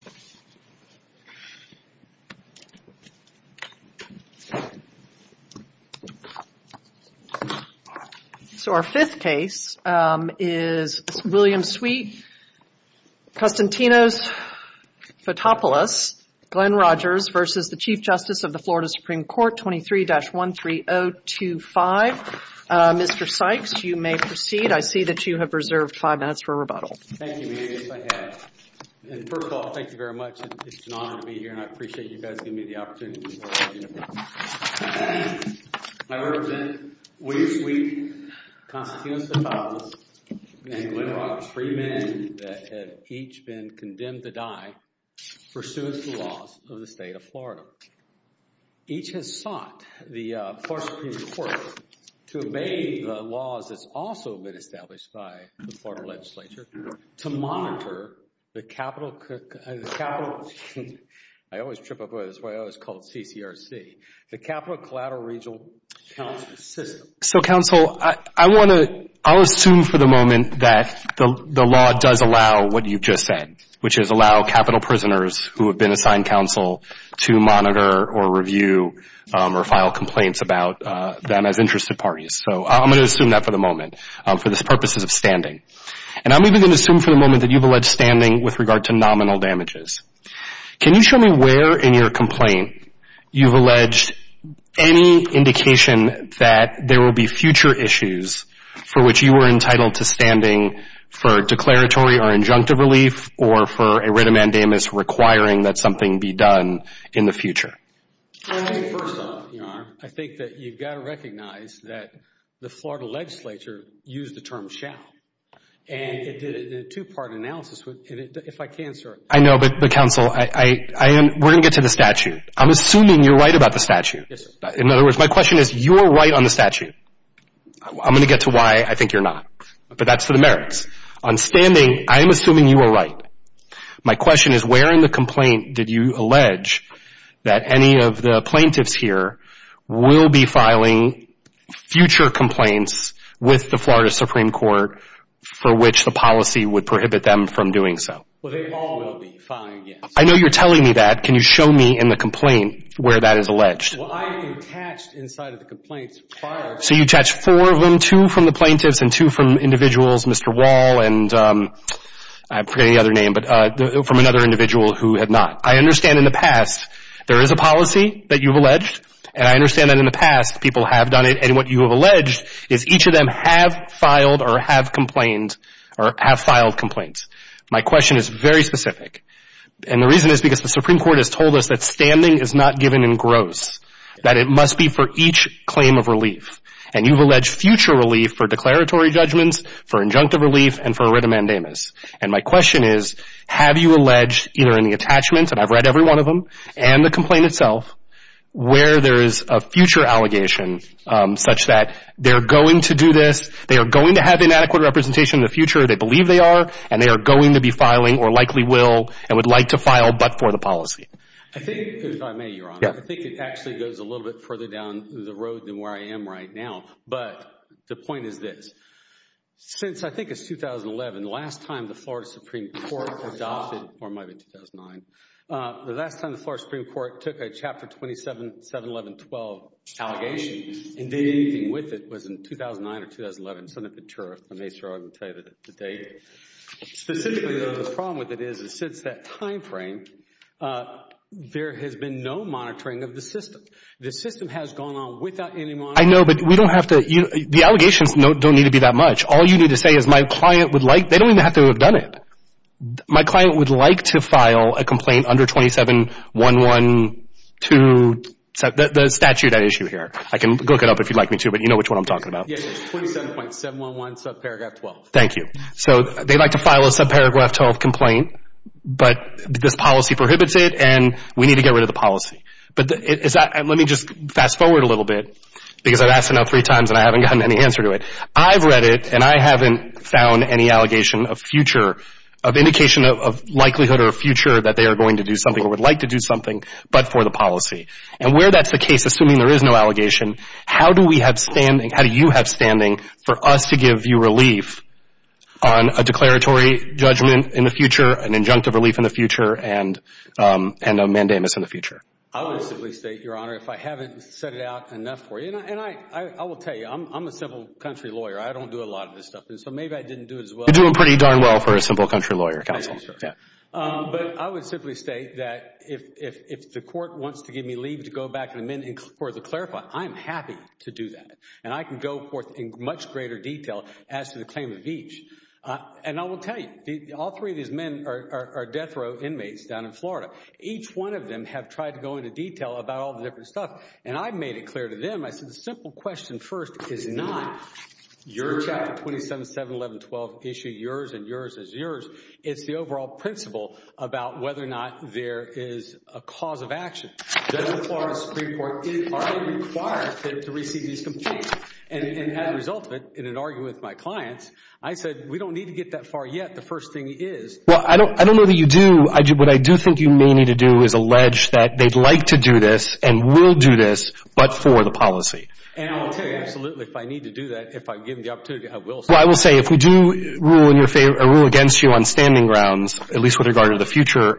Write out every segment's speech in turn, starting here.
23-13025. Mr. Sykes, you may proceed. I see that you have reserved five minutes for rebuttal. Thank you, Mayor. Yes, I have. And first of all, thank you very much. It's an honor to be here and I appreciate you guys giving me the opportunity. I represent William Sweet, Constituent of the Fathers, and Glen Rock, three men that have each been condemned to die pursuant to the laws of the state of Florida. Each has sought the Florida Supreme Court to obey the laws that's also been established by the Florida Legislature to monitor the Capital Collateral Regional Counsel System. So, Counsel, I want to – I'll assume for the moment that the law does allow what you've just said, which is allow capital prisoners who have been assigned counsel to monitor or review or file complaints about them as interested parties. So I'm going to assume that for the moment for the purposes of standing. And I'm even going to assume for the moment that you've alleged standing with regard to nominal damages. Can you show me where in your complaint you've alleged any indication that there will be future issues for which you are entitled to standing for declaratory or injunctive relief or for a writ of mandamus requiring that something be done in the future? First off, I think that you've got to recognize that the Florida Legislature used the term shall. And it did a two-part analysis. If I can, sir. I know. But, Counsel, we're going to get to the statute. I'm assuming you're right about the statute. Yes, sir. In other words, my question is you're right on the statute. I'm going to get to why I think you're not. But that's for the merits. On standing, I'm assuming you are right. My question is where in the complaint did you allege that any of the plaintiffs here will be filing future complaints with the Florida Supreme Court for which the policy would prohibit them from doing so? Well, they all will be filing, yes. I know you're telling me that. Can you show me in the complaint where that is alleged? Well, I attached inside of the complaints files. So you attached four of them, two from the plaintiffs and two from individuals, Mr. Wall and I forget any other name, but from another individual who had not. I understand in the past there is a policy that you've alleged. And I understand that in the past people have done it. And what you have alleged is each of them have filed or have complained or have filed complaints. My question is very specific. And the reason is because the Supreme Court has told us that standing is not given in gross, that it must be for each claim of relief. And you've alleged future relief for declaratory judgments, for injunctive relief, and for writ of mandamus. And my question is, have you alleged either in the attachments, and I've read every one of them, and the complaint itself, where there is a future allegation such that they're going to do this, they are going to have inadequate representation in the future, they believe they are, and they are going to be filing or likely will and would like to file but for the policy? I think, if I may, Your Honor, I think it actually goes a little bit further down the road than where I am right now. But the point is this. Since I think it's 2011, the last time the Florida Supreme Court adopted, or it might be 2009, the last time the Florida Supreme Court took a Chapter 27, 711.12 allegation and did anything with it was in 2009 or 2011. I made sure I would tell you the date. Specifically, though, the problem with it is that since that time frame, there has been no monitoring of the system. The system has gone on without any monitoring. I know, but we don't have to – the allegations don't need to be that much. All you need to say is my client would like – they don't even have to have done it. My client would like to file a complaint under 2711.12, the statute at issue here. I can look it up if you'd like me to, but you know which one I'm talking about. Yes, 27.711 subparagraph 12. Thank you. So they'd like to file a subparagraph 12 complaint, but this policy prohibits it, and we need to get rid of the policy. Let me just fast forward a little bit because I've asked it now three times and I haven't gotten any answer to it. I've read it, and I haven't found any allegation of future – of indication of likelihood or future that they are going to do something or would like to do something but for the policy. And where that's the case, assuming there is no allegation, how do we have standing – how do you have standing for us to give you relief on a declaratory judgment in the future, an injunctive relief in the future, and a mandamus in the future? I would simply state, Your Honor, if I haven't set it out enough for you – and I will tell you, I'm a simple country lawyer. I don't do a lot of this stuff, so maybe I didn't do it as well. You're doing pretty darn well for a simple country lawyer, counsel. Thank you, sir. But I would simply state that if the court wants to give me leave to go back and amend for the clarify, I'm happy to do that. And I can go forth in much greater detail as to the claim of each. And I will tell you, all three of these men are death row inmates down in Florida. Each one of them have tried to go into detail about all the different stuff, and I've made it clear to them. I said the simple question first is not your Chapter 27, 7, 11, 12 issue, yours and yours is yours. It's the overall principle about whether or not there is a cause of action. The Florida Supreme Court is already required to receive these complaints. And as a result of it, in an argument with my clients, I said we don't need to get that far yet. The first thing is – Well, I don't know that you do. What I do think you may need to do is allege that they'd like to do this and will do this, but for the policy. And I will tell you, absolutely, if I need to do that, if I'm given the opportunity, I will. Well, I will say if we do rule against you on standing grounds, at least with regard to the future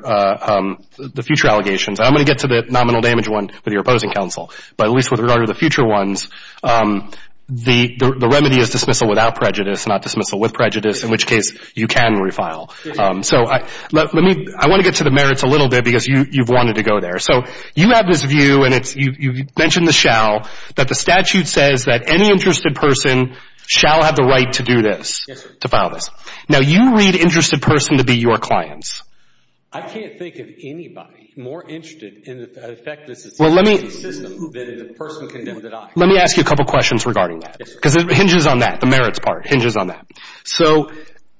allegations – I'm going to get to the nominal damage one with your opposing counsel, but at least with regard to the future ones, the remedy is dismissal without prejudice, not dismissal with prejudice, in which case you can refile. So let me – I want to get to the merits a little bit because you've wanted to go there. So you have this view, and you mentioned the shall, that the statute says that any interested person shall have the right to do this, to file this. Now, you read interested person to be your clients. I can't think of anybody more interested in the effectiveness of this system than the person condemned that I am. Let me ask you a couple questions regarding that because it hinges on that, the merits part, hinges on that. So,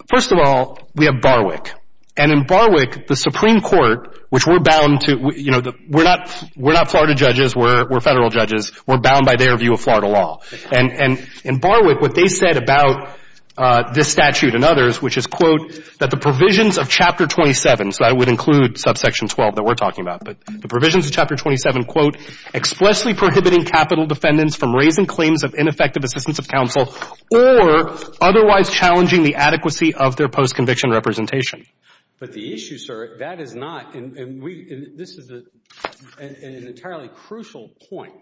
first of all, we have Barwick. And in Barwick, the Supreme Court, which we're bound to – you know, we're not Florida judges. We're Federal judges. We're bound by their view of Florida law. And in Barwick, what they said about this statute and others, which is, quote, that the provisions of Chapter 27, so that would include subsection 12 that we're talking about, but the provisions of Chapter 27, quote, explicitly prohibiting capital defendants from raising claims of ineffective assistance of counsel or otherwise challenging the adequacy of their post-conviction representation. But the issue, sir, that is not – and we – and this is an entirely crucial point.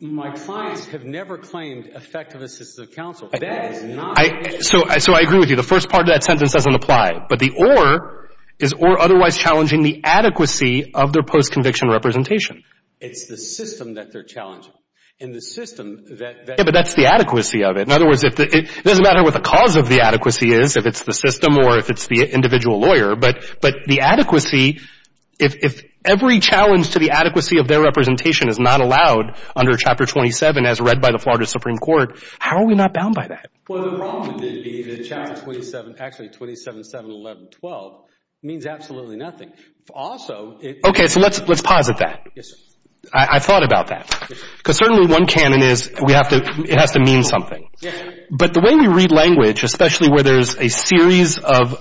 My clients have never claimed effective assistance of counsel. That is not – So I agree with you. The first part of that sentence doesn't apply. But the or is or otherwise challenging the adequacy of their post-conviction representation. It's the system that they're challenging. And the system that – Yeah, but that's the adequacy of it. In other words, it doesn't matter what the cause of the adequacy is, if it's the system or if it's the individual lawyer. But the adequacy, if every challenge to the adequacy of their representation is not allowed under Chapter 27, as read by the Florida Supreme Court, how are we not bound by that? Well, the problem would be that Chapter 27 – actually, 27, 7, 11, 12 means absolutely nothing. Also, it – Okay. So let's posit that. Yes, sir. I thought about that. Because certainly one canon is we have to – it has to mean something. Yeah. But the way we read language, especially where there's a series of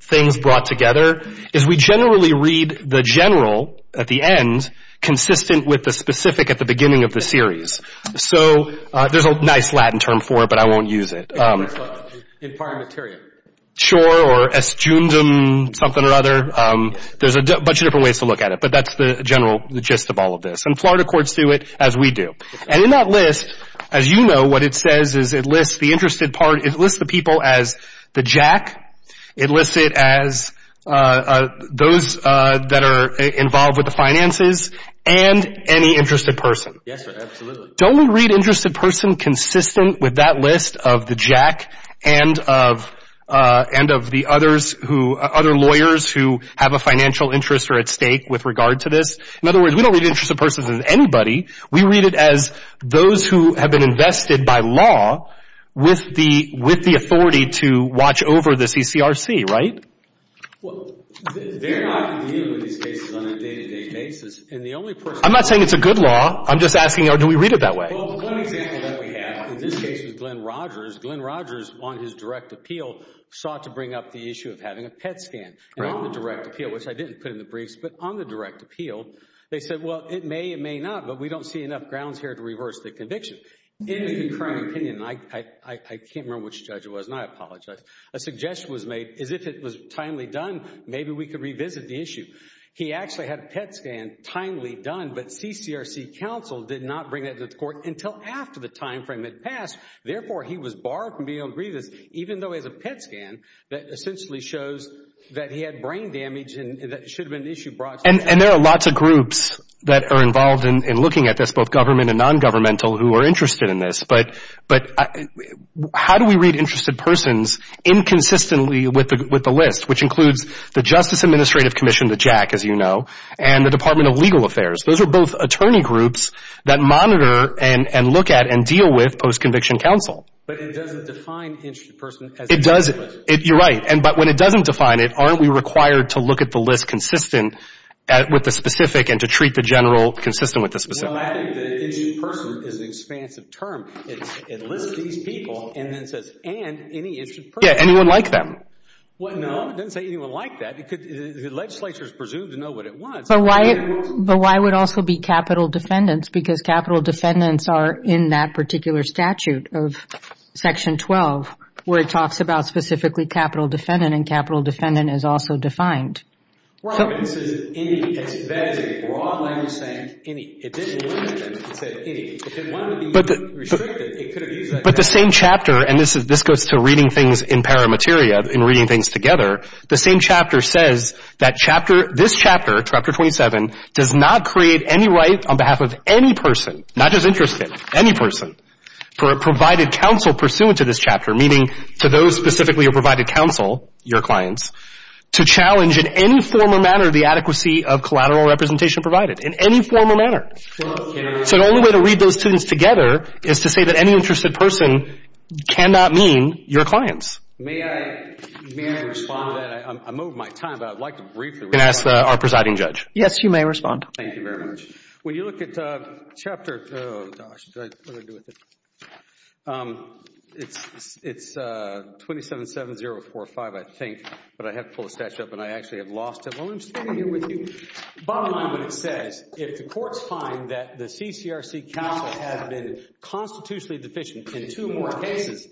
things brought together, is we generally read the general at the end consistent with the specific at the beginning of the series. So there's a nice Latin term for it, but I won't use it. In prior materia. Sure, or estundum, something or other. There's a bunch of different ways to look at it. But that's the general gist of all of this. And Florida courts do it as we do. And in that list, as you know, what it says is it lists the interested part. It lists the people as the jack. It lists it as those that are involved with the finances and any interested person. Yes, sir, absolutely. Don't we read interested person consistent with that list of the jack and of the others who – other lawyers who have a financial interest or at stake with regard to this? In other words, we don't read interested persons as anybody. We read it as those who have been invested by law with the authority to watch over the CCRC, right? Well, they're not dealing with these cases on a day-to-day basis. And the only person – I'm not saying it's a good law. I'm just asking, do we read it that way? Well, one example that we have in this case is Glenn Rogers. Glenn Rogers, on his direct appeal, sought to bring up the issue of having a PET scan. And on the direct appeal, which I didn't put in the briefs, but on the direct appeal, they said, well, it may, it may not, but we don't see enough grounds here to reverse the conviction. In the current opinion, and I can't remember which judge it was, and I apologize, a suggestion was made as if it was timely done, maybe we could revisit the issue. He actually had a PET scan timely done, but CCRC counsel did not bring that to the court until after the timeframe had passed. Therefore, he was barred from being on briefs, even though he has a PET scan that essentially shows that he had brain damage and that it should have been an issue brought to the court. And there are lots of groups that are involved in looking at this, both government and nongovernmental, who are interested in this. But how do we read interested persons inconsistently with the list, which includes the Justice Administrative Commission, the JAC, as you know, and the Department of Legal Affairs? Those are both attorney groups that monitor and look at and deal with post-conviction counsel. But it doesn't define interested person as a legal person. You're right. But when it doesn't define it, aren't we required to look at the list consistent with the specific and to treat the general consistent with the specific? Well, I think that interested person is an expansive term. It lists these people and then says, and any interested person. Yeah, anyone like them. No, it doesn't say anyone like that. The legislature is presumed to know what it wants. But why would also be capital defendants? Because capital defendants are in that particular statute of Section 12 where it talks about specifically capital defendant, and capital defendant is also defined. Well, I mean, it says any. That is a broad language saying any. It didn't limit it. It said any. If it wanted to be restricted, it could have used that. But the same chapter, and this goes to reading things in paramateria, in reading things together, the same chapter says that this chapter, Chapter 27, does not create any right on behalf of any person, not just interested, any person, provided counsel pursuant to this chapter, meaning to those specifically who provided counsel, your clients, to challenge in any form or manner the adequacy of collateral representation provided in any form or manner. So the only way to read those things together is to say that any interested person cannot mean your clients. May I respond? I'm moving my time, but I'd like to briefly respond. You can ask our presiding judge. Yes, you may respond. Thank you very much. When you look at Chapter, oh, gosh, what do I do with it? It's 277045, I think, but I have to pull the stash up, and I actually have lost it. Well, I'm just going to read it with you. Bottom line when it says, if the courts find that the CCRC counsel has been constitutionally deficient in two more cases,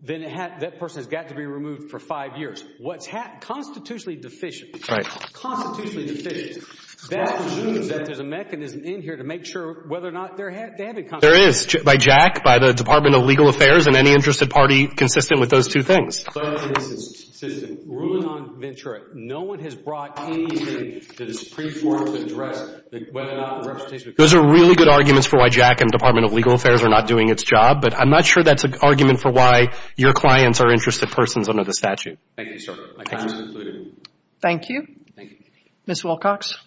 then that person has got to be removed for five years. What's constitutionally deficient, constitutionally deficient, that means that there's a mechanism in here to make sure whether or not they have been constitutionally deficient. There is, by Jack, by the Department of Legal Affairs, and any interested party consistent with those two things. Ruling on Ventura, no one has brought anything that is preformed to address whether or not the representation was consistent. Those are really good arguments for why Jack and the Department of Legal Affairs are not doing its job, but I'm not sure that's an argument for why your clients are interested persons under the statute. Thank you, sir. My time is concluded. Thank you. Thank you. Ms. Wilcox.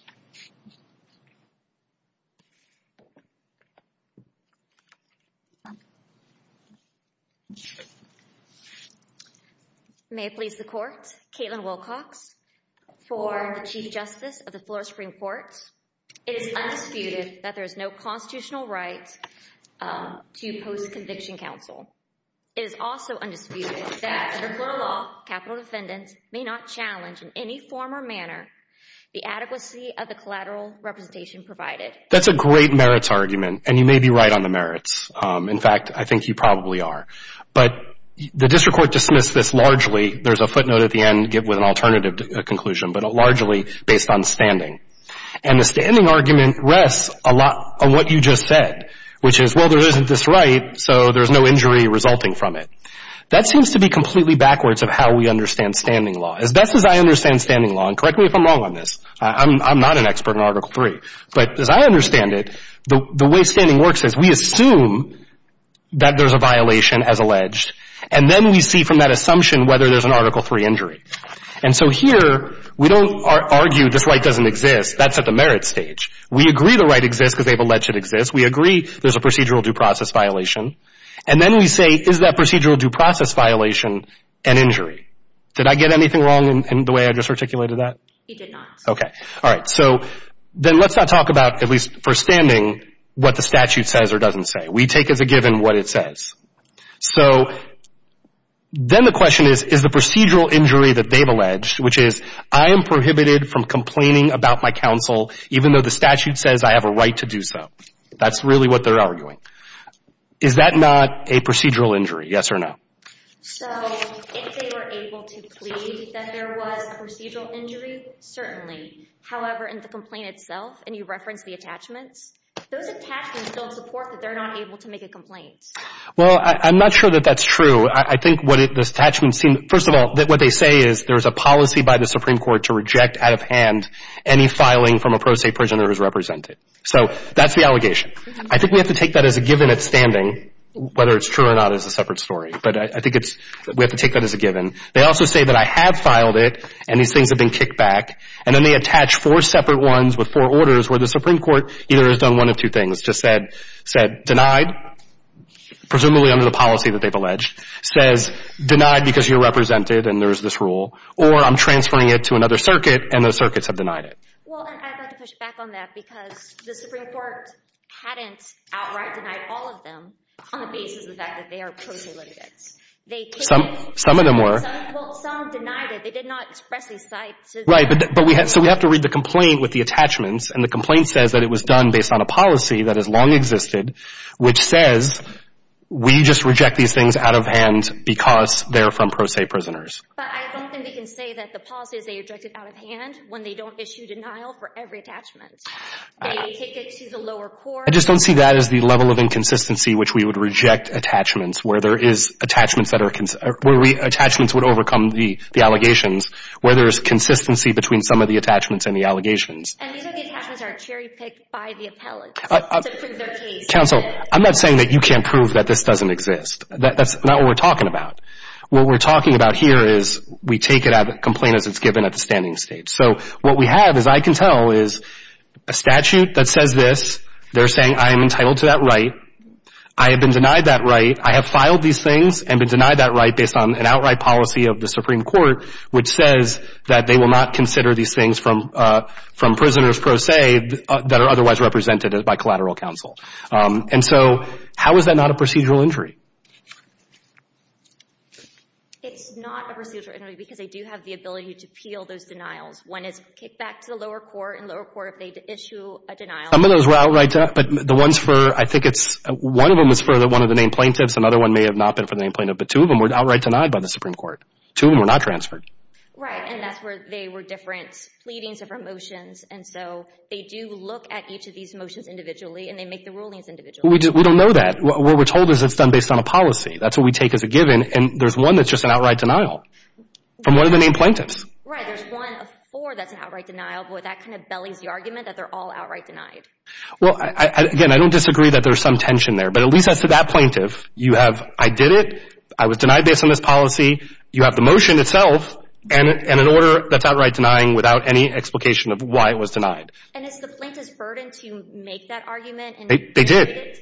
May it please the Court, Caitlin Wilcox for the Chief Justice of the Florida Supreme Court. It is undisputed that there is no constitutional right to post-conviction counsel. It is also undisputed that under Florida law, capital defendants may not challenge in any form or manner the adequacy of the collateral representation provided. That's a great merits argument, and you may be right on the merits. In fact, I think you probably are. But the district court dismissed this largely, there's a footnote at the end with an alternative conclusion, but largely based on standing. And the standing argument rests a lot on what you just said, which is, well, there isn't this right, so there's no injury resulting from it. That seems to be completely backwards of how we understand standing law. As best as I understand standing law, and correct me if I'm wrong on this, I'm not an expert on Article III, but as I understand it, the way standing works is we assume that there's a violation as alleged, and then we see from that assumption whether there's an Article III injury. And so here, we don't argue this right doesn't exist. That's at the merits stage. We agree the right exists because they've alleged it exists. We agree there's a procedural due process violation. And then we say, is that procedural due process violation an injury? Did I get anything wrong in the way I just articulated that? You did not. Okay. All right. So then let's not talk about, at least for standing, what the statute says or doesn't say. We take as a given what it says. So then the question is, is the procedural injury that they've alleged, which is I am prohibited from complaining about my counsel even though the statute says I have a right to do so. That's really what they're arguing. Is that not a procedural injury, yes or no? So if they were able to plead that there was a procedural injury, certainly. However, in the complaint itself, and you referenced the attachments, those attachments don't support that they're not able to make a complaint. Well, I'm not sure that that's true. I think what this attachment seems, first of all, what they say is there's a policy by the Supreme Court to reject out of hand any filing from a pro se prisoner who's represented. So that's the allegation. I think we have to take that as a given at standing, whether it's true or not is a separate story. But I think we have to take that as a given. They also say that I have filed it and these things have been kicked back. And then they attach four separate ones with four orders where the Supreme Court either has done one of two things, just said denied, presumably under the policy that they've alleged, says denied because you're represented and there's this rule, or I'm transferring it to another circuit and those circuits have denied it. Well, and I'd like to push back on that because the Supreme Court hadn't outright denied all of them on the basis of the fact that they are pro se litigants. Some of them were. Well, some denied it. They did not express these sites. Right. So we have to read the complaint with the attachments, and the complaint says that it was done based on a policy that has long existed which says we just reject these things out of hand because they're from pro se prisoners. But I don't think we can say that the policy is they reject it out of hand when they don't issue denial for every attachment. They take it to the lower court. I just don't see that as the level of inconsistency which we would reject attachments, where attachments would overcome the allegations, where there's consistency between some of the attachments and the allegations. And these are the attachments that are cherry picked by the appellate to prove their case. Counsel, I'm not saying that you can't prove that this doesn't exist. That's not what we're talking about. What we're talking about here is we take it out of the complaint as it's given at the standing stage. So what we have, as I can tell, is a statute that says this. They're saying I am entitled to that right. I have been denied that right. I have filed these things and been denied that right based on an outright policy of the Supreme Court which says that they will not consider these things from prisoners pro se that are otherwise represented by collateral counsel. And so how is that not a procedural injury? It's not a procedural injury because they do have the ability to peel those denials. One is kicked back to the lower court, and the lower court, if they issue a denial. Some of those were outright denied, but the ones for, I think it's, one of them was for one of the named plaintiffs. Another one may have not been for the named plaintiff. But two of them were outright denied by the Supreme Court. Two of them were not transferred. Right, and that's where they were different pleadings, different motions. And so they do look at each of these motions individually and they make the rulings individually. We don't know that. What we're told is it's done based on a policy. That's what we take as a given. And there's one that's just an outright denial from one of the named plaintiffs. Right, there's one of four that's an outright denial, but that kind of bellies the argument that they're all outright denied. Well, again, I don't disagree that there's some tension there. But at least as to that plaintiff, you have I did it, I was denied based on this policy, you have the motion itself, and an order that's outright denying without any explication of why it was denied. And is the plaintiff's burden to make that argument? They did.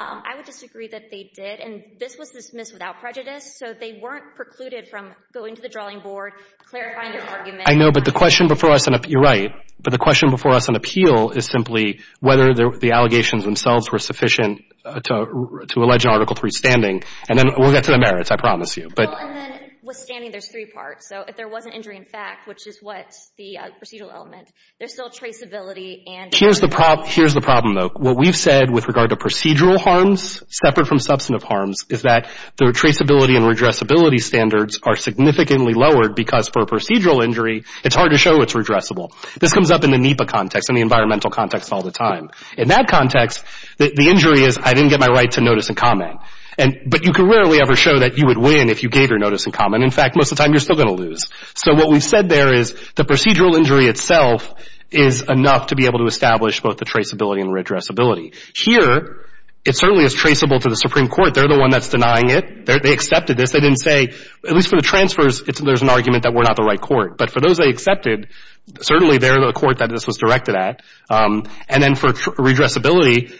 I would disagree that they did. And this was dismissed without prejudice, so they weren't precluded from going to the drawing board, clarifying their argument. I know, but the question before us, and you're right, but the question before us on appeal is simply whether the allegations themselves were sufficient to allege Article III standing. And then we'll get to the merits, I promise you. Well, and then with standing, there's three parts. So if there was an injury in fact, which is what the procedural element, there's still traceability and redressability. Here's the problem, though. What we've said with regard to procedural harms, separate from substantive harms, is that the traceability and redressability standards are significantly lowered because for a procedural injury, it's hard to show it's redressable. This comes up in the NEPA context and the environmental context all the time. In that context, the injury is I didn't get my right to notice and comment. But you can rarely ever show that you would win if you gave your notice and comment. In fact, most of the time you're still going to lose. So what we've said there is the procedural injury itself is enough to be able to establish both the traceability and redressability. Here, it certainly is traceable to the Supreme Court. They're the one that's denying it. They accepted this. They didn't say, at least for the transfers, there's an argument that we're not the right court. But for those they accepted, certainly they're the court that this was directed at. And then for redressability,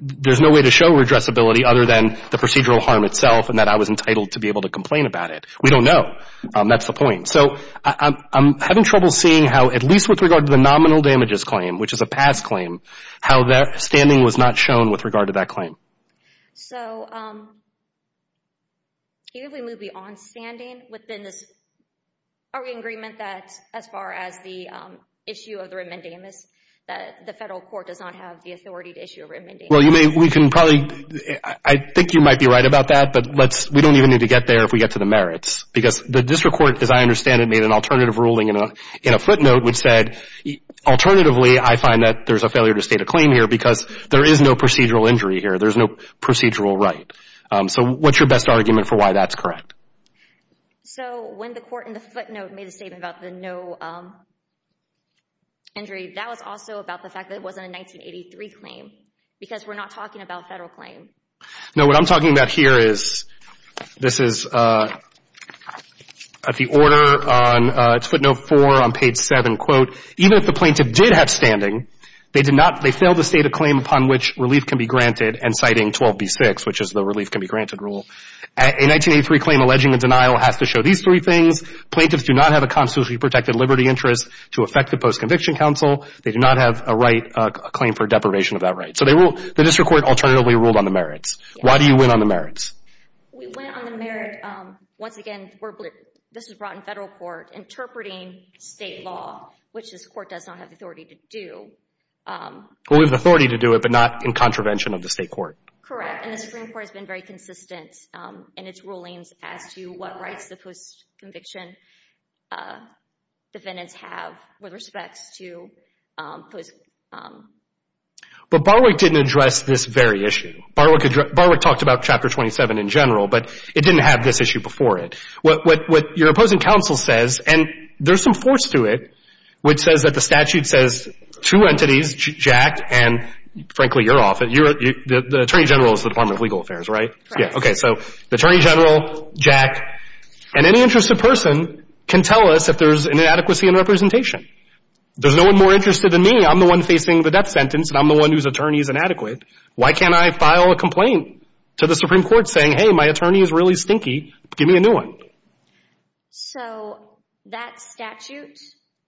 there's no way to show redressability other than the procedural harm itself and that I was entitled to be able to complain about it. We don't know. That's the point. So I'm having trouble seeing how, at least with regard to the nominal damages claim, which is a past claim, how that standing was not shown with regard to that claim. So even if we move beyond standing within this argument that as far as the issue of the remandamus, that the federal court does not have the authority to issue a remandamus. Well, you may. We can probably. I think you might be right about that, but we don't even need to get there if we get to the merits because the district court, as I understand it, made an alternative ruling in a footnote which said, alternatively, I find that there's a failure to state a claim here because there is no procedural injury here. There's no procedural right. So what's your best argument for why that's correct? So when the court in the footnote made a statement about the no injury, that was also about the fact that it wasn't a 1983 claim because we're not talking about a federal claim. No, what I'm talking about here is this is the order on footnote 4 on page 7. Quote, even if the plaintiff did have standing, they did not, they failed to state a claim upon which relief can be granted and citing 12b-6, which is the relief can be granted rule. A 1983 claim alleging a denial has to show these three things. Plaintiffs do not have a constitutionally protected liberty interest to affect the post-conviction counsel. They do not have a right, a claim for deprivation of that right. So the district court alternatively ruled on the merits. Why do you win on the merits? We win on the merits, once again, this was brought in federal court, interpreting state law, which this court does not have the authority to do. Well, we have the authority to do it, but not in contravention of the state court. Correct, and the Supreme Court has been very consistent in its rulings as to what rights the post-conviction defendants have with respects to post-conviction. But Barwick didn't address this very issue. Barwick talked about Chapter 27 in general, but it didn't have this issue before it. What your opposing counsel says, and there's some force to it, which says that the statute says two entities, Jack and, frankly, you're off. The Attorney General is the Department of Legal Affairs, right? Correct. Okay, so the Attorney General, Jack, and any interested person can tell us if there's an inadequacy in representation. There's no one more interested than me. I'm the one facing the death sentence, and I'm the one whose attorney is inadequate. Why can't I file a complaint to the Supreme Court saying, hey, my attorney is really stinky. Give me a new one. So that statute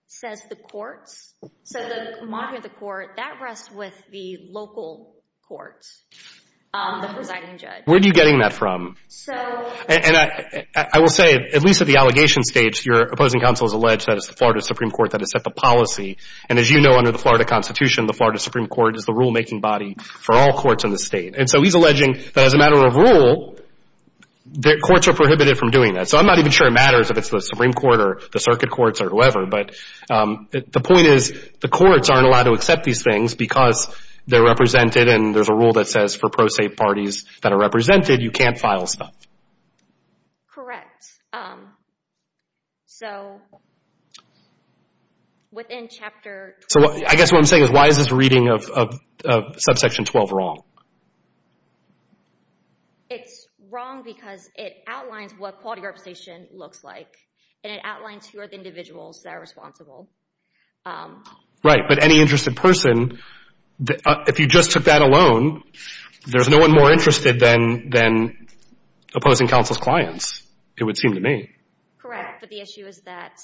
says the courts. So the monument of the court, that rests with the local courts, the presiding judge. Where are you getting that from? And I will say, at least at the allegation stage, your opposing counsel has alleged that it's the Florida Supreme Court that has set the policy. And as you know, under the Florida Constitution, the Florida Supreme Court is the rulemaking body for all courts in the state. And so he's alleging that as a matter of rule, courts are prohibited from doing that. So I'm not even sure it matters if it's the Supreme Court or the circuit courts or whoever, but the point is the courts aren't allowed to accept these things because they're represented and there's a rule that says for pro se parties that are represented, you can't file stuff. Correct. So within Chapter 12. So I guess what I'm saying is why is this reading of subsection 12 wrong? It's wrong because it outlines what quality representation looks like and it outlines who are the individuals that are responsible. Right, but any interested person, if you just took that alone, there's no one more interested than opposing counsel's clients. It would seem to me. Correct, but the issue is that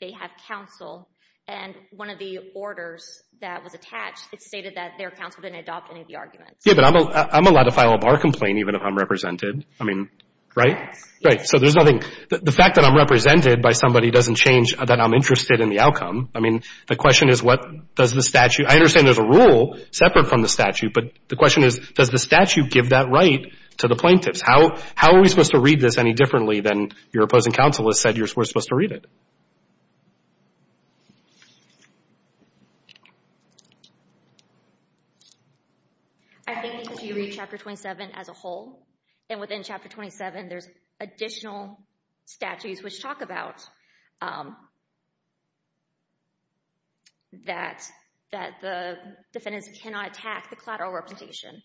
they have counsel and one of the orders that was attached stated that their counsel didn't adopt any of the arguments. Yeah, but I'm allowed to file a bar complaint even if I'm represented. I mean, right? Right. So there's nothing. The fact that I'm represented by somebody doesn't change that I'm interested in the outcome. I mean, the question is what does the statute – I understand there's a rule separate from the statute, but the question is does the statute give that right to the plaintiffs? How are we supposed to read this any differently than your opposing counsel has said you're supposed to read it? I think because you read Chapter 27 as a whole, and within Chapter 27 there's additional statutes which talk about that the defendants cannot attack the collateral representation.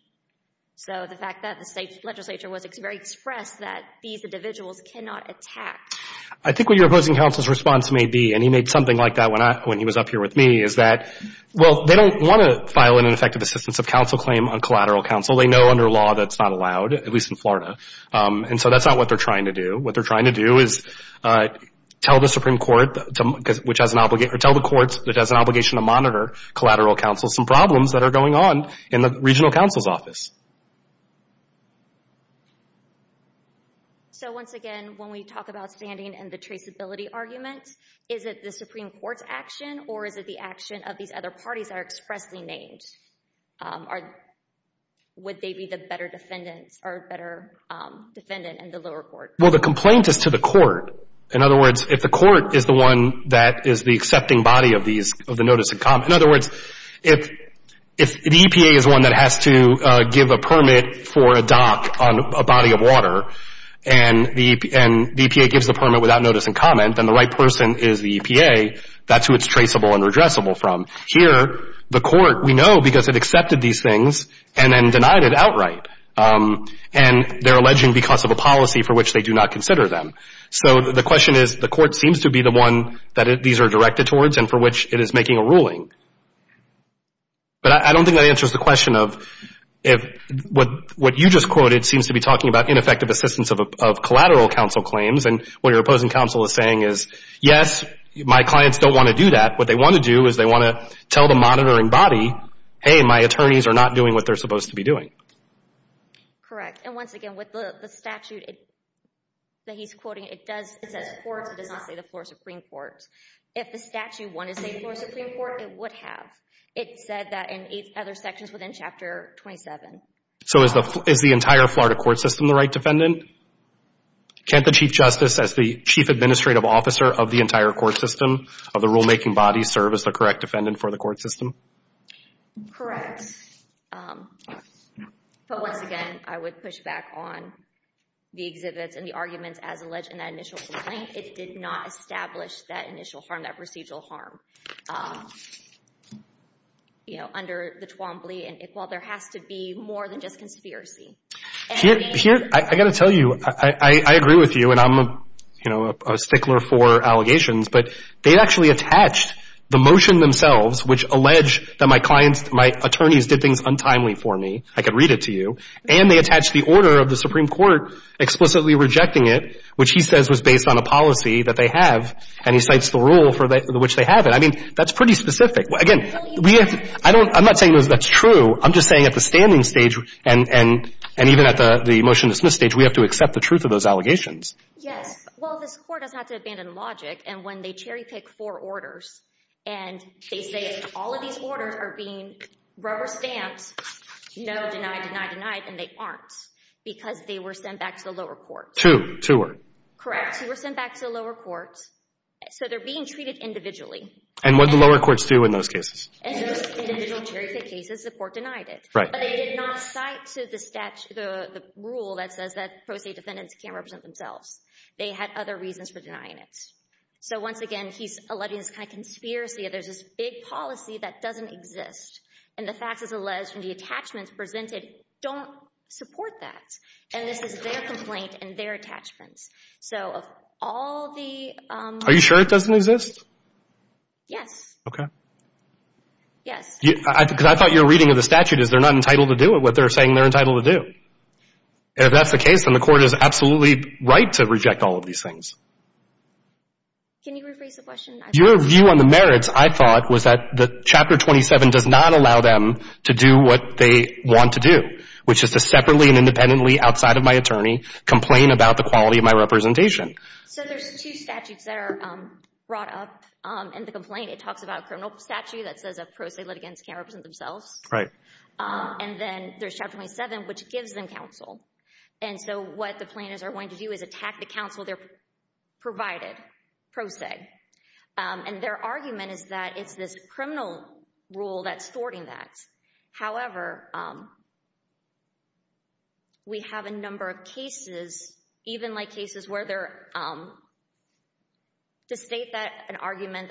So the fact that the state legislature was very expressed that these individuals cannot attack. I think what your opposing counsel's response may be, and he made something like that when he was up here with me, is that, well, they don't want to file an ineffective assistance of counsel claim on collateral counsel. They know under law that's not allowed, at least in Florida. And so that's not what they're trying to do. What they're trying to do is tell the Supreme Court, or tell the courts that has an obligation to monitor collateral counsel, some problems that are going on in the regional counsel's office. So once again, when we talk about standing and the traceability argument, is it the Supreme Court's action or is it the action of these other parties that are expressly named? Would they be the better defendants or better defendant in the lower court? Well, the complaint is to the court. In other words, if the court is the one that is the accepting body of the notice in common, in other words, if the EPA is one that has to give a permit for a dock on a body of water and the EPA gives the permit without notice and comment, then the right person is the EPA. That's who it's traceable and redressable from. Here, the court, we know because it accepted these things and then denied it outright. And they're alleging because of a policy for which they do not consider them. So the question is the court seems to be the one that these are directed towards and for which it is making a ruling. But I don't think that answers the question of what you just quoted seems to be talking about ineffective assistance of collateral counsel claims. And what your opposing counsel is saying is, yes, my clients don't want to do that. What they want to do is they want to tell the monitoring body, hey, my attorneys are not doing what they're supposed to be doing. Correct. And once again, with the statute that he's quoting, it says courts. It does not say the floor supreme court. If the statute wanted to say floor supreme court, it would have. It said that in other sections within Chapter 27. So is the entire Florida court system the right defendant? Can't the Chief Justice as the chief administrative officer of the entire court system of the rulemaking body serve as the correct defendant for the court system? Correct. But once again, I would push back on the exhibits and the arguments as alleged in that initial complaint. It did not establish that initial harm, that procedural harm. You know, under the Twombly and Iqbal, there has to be more than just conspiracy. I've got to tell you, I agree with you, and I'm a stickler for allegations, but they actually attached the motion themselves, which allege that my clients, my attorneys did things untimely for me. I could read it to you. And they attached the order of the Supreme Court explicitly rejecting it, which he says was based on a policy that they have, and he cites the rule for which they have it. I mean, that's pretty specific. Again, I'm not saying that's true. I'm just saying at the standing stage and even at the motion-dismissed stage, we have to accept the truth of those allegations. Yes. Well, this court does not have to abandon logic, and when they cherry-pick four orders, and they say all of these orders are being rubber-stamped, no, denied, denied, denied, and they aren't, because they were sent back to the lower court. Two. Two were. Correct. Two were sent back to the lower court. So they're being treated individually. And what did the lower courts do in those cases? In those individual cherry-pick cases, the court denied it. Right. But they did not cite the rule that says that pro se defendants can't represent themselves. They had other reasons for denying it. So, once again, he's alleging this kind of conspiracy. There's this big policy that doesn't exist, and the facts as alleged and the attachments presented don't support that. And this is their complaint and their attachments. So of all the— Are you sure it doesn't exist? Yes. Okay. Yes. Because I thought your reading of the statute is they're not entitled to do it, what they're saying they're entitled to do. If that's the case, then the court is absolutely right to reject all of these things. Can you rephrase the question? Your view on the merits, I thought, was that Chapter 27 does not allow them to do what they want to do, which is to separately and independently outside of my attorney complain about the quality of my representation. So there's two statutes that are brought up in the complaint. It talks about a criminal statute that says that pro se litigants can't represent themselves. Right. And then there's Chapter 27, which gives them counsel. And so what the plaintiffs are going to do is attack the counsel they're provided, pro se. And their argument is that it's this criminal rule that's thwarting that. However, we have a number of cases, even like cases where they're— to state that an argument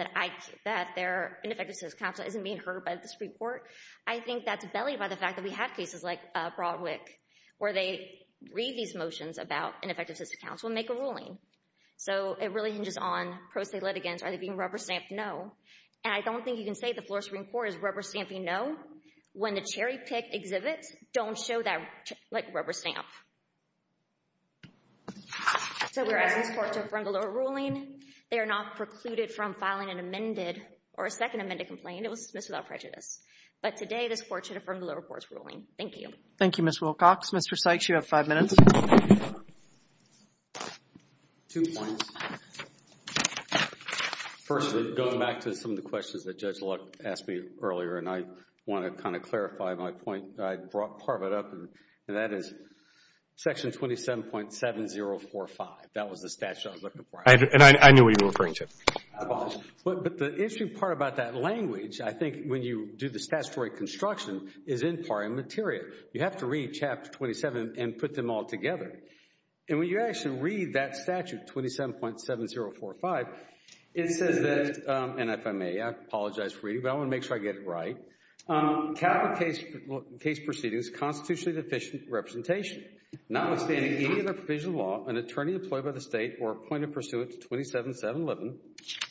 that they're ineffective as counsel isn't being heard by this report, I think that's bellied by the fact that we have cases like Broadwick, where they read these motions about ineffective as counsel and make a ruling. So it really hinges on pro se litigants. Are they being rubber-stamped? No. And I don't think you can say the Florida Supreme Court is rubber-stamping no when the cherry-picked exhibits don't show that rubber stamp. So we're asking this court to affirm the lower ruling. They are not precluded from filing an amended or a second amended complaint. It was dismissed without prejudice. But today this court should affirm the lower court's ruling. Thank you. Thank you, Ms. Wilcox. Mr. Sykes, you have five minutes. Two points. First, going back to some of the questions that Judge Luck asked me earlier, and I want to kind of clarify my point. I brought part of it up, and that is Section 27.7045. That was the statute I was looking for. And I knew what you were referring to. But the interesting part about that language, I think when you do the statutory construction, is in part immaterial. You have to read Chapter 27 and put them all together. And when you actually read that statute, 27.7045, it says that, and if I may, I apologize for reading, but I want to make sure I get it right. Capital case proceedings, constitutionally deficient representation, notwithstanding any other provision of law, an attorney employed by the state or appointed pursuant to 27.711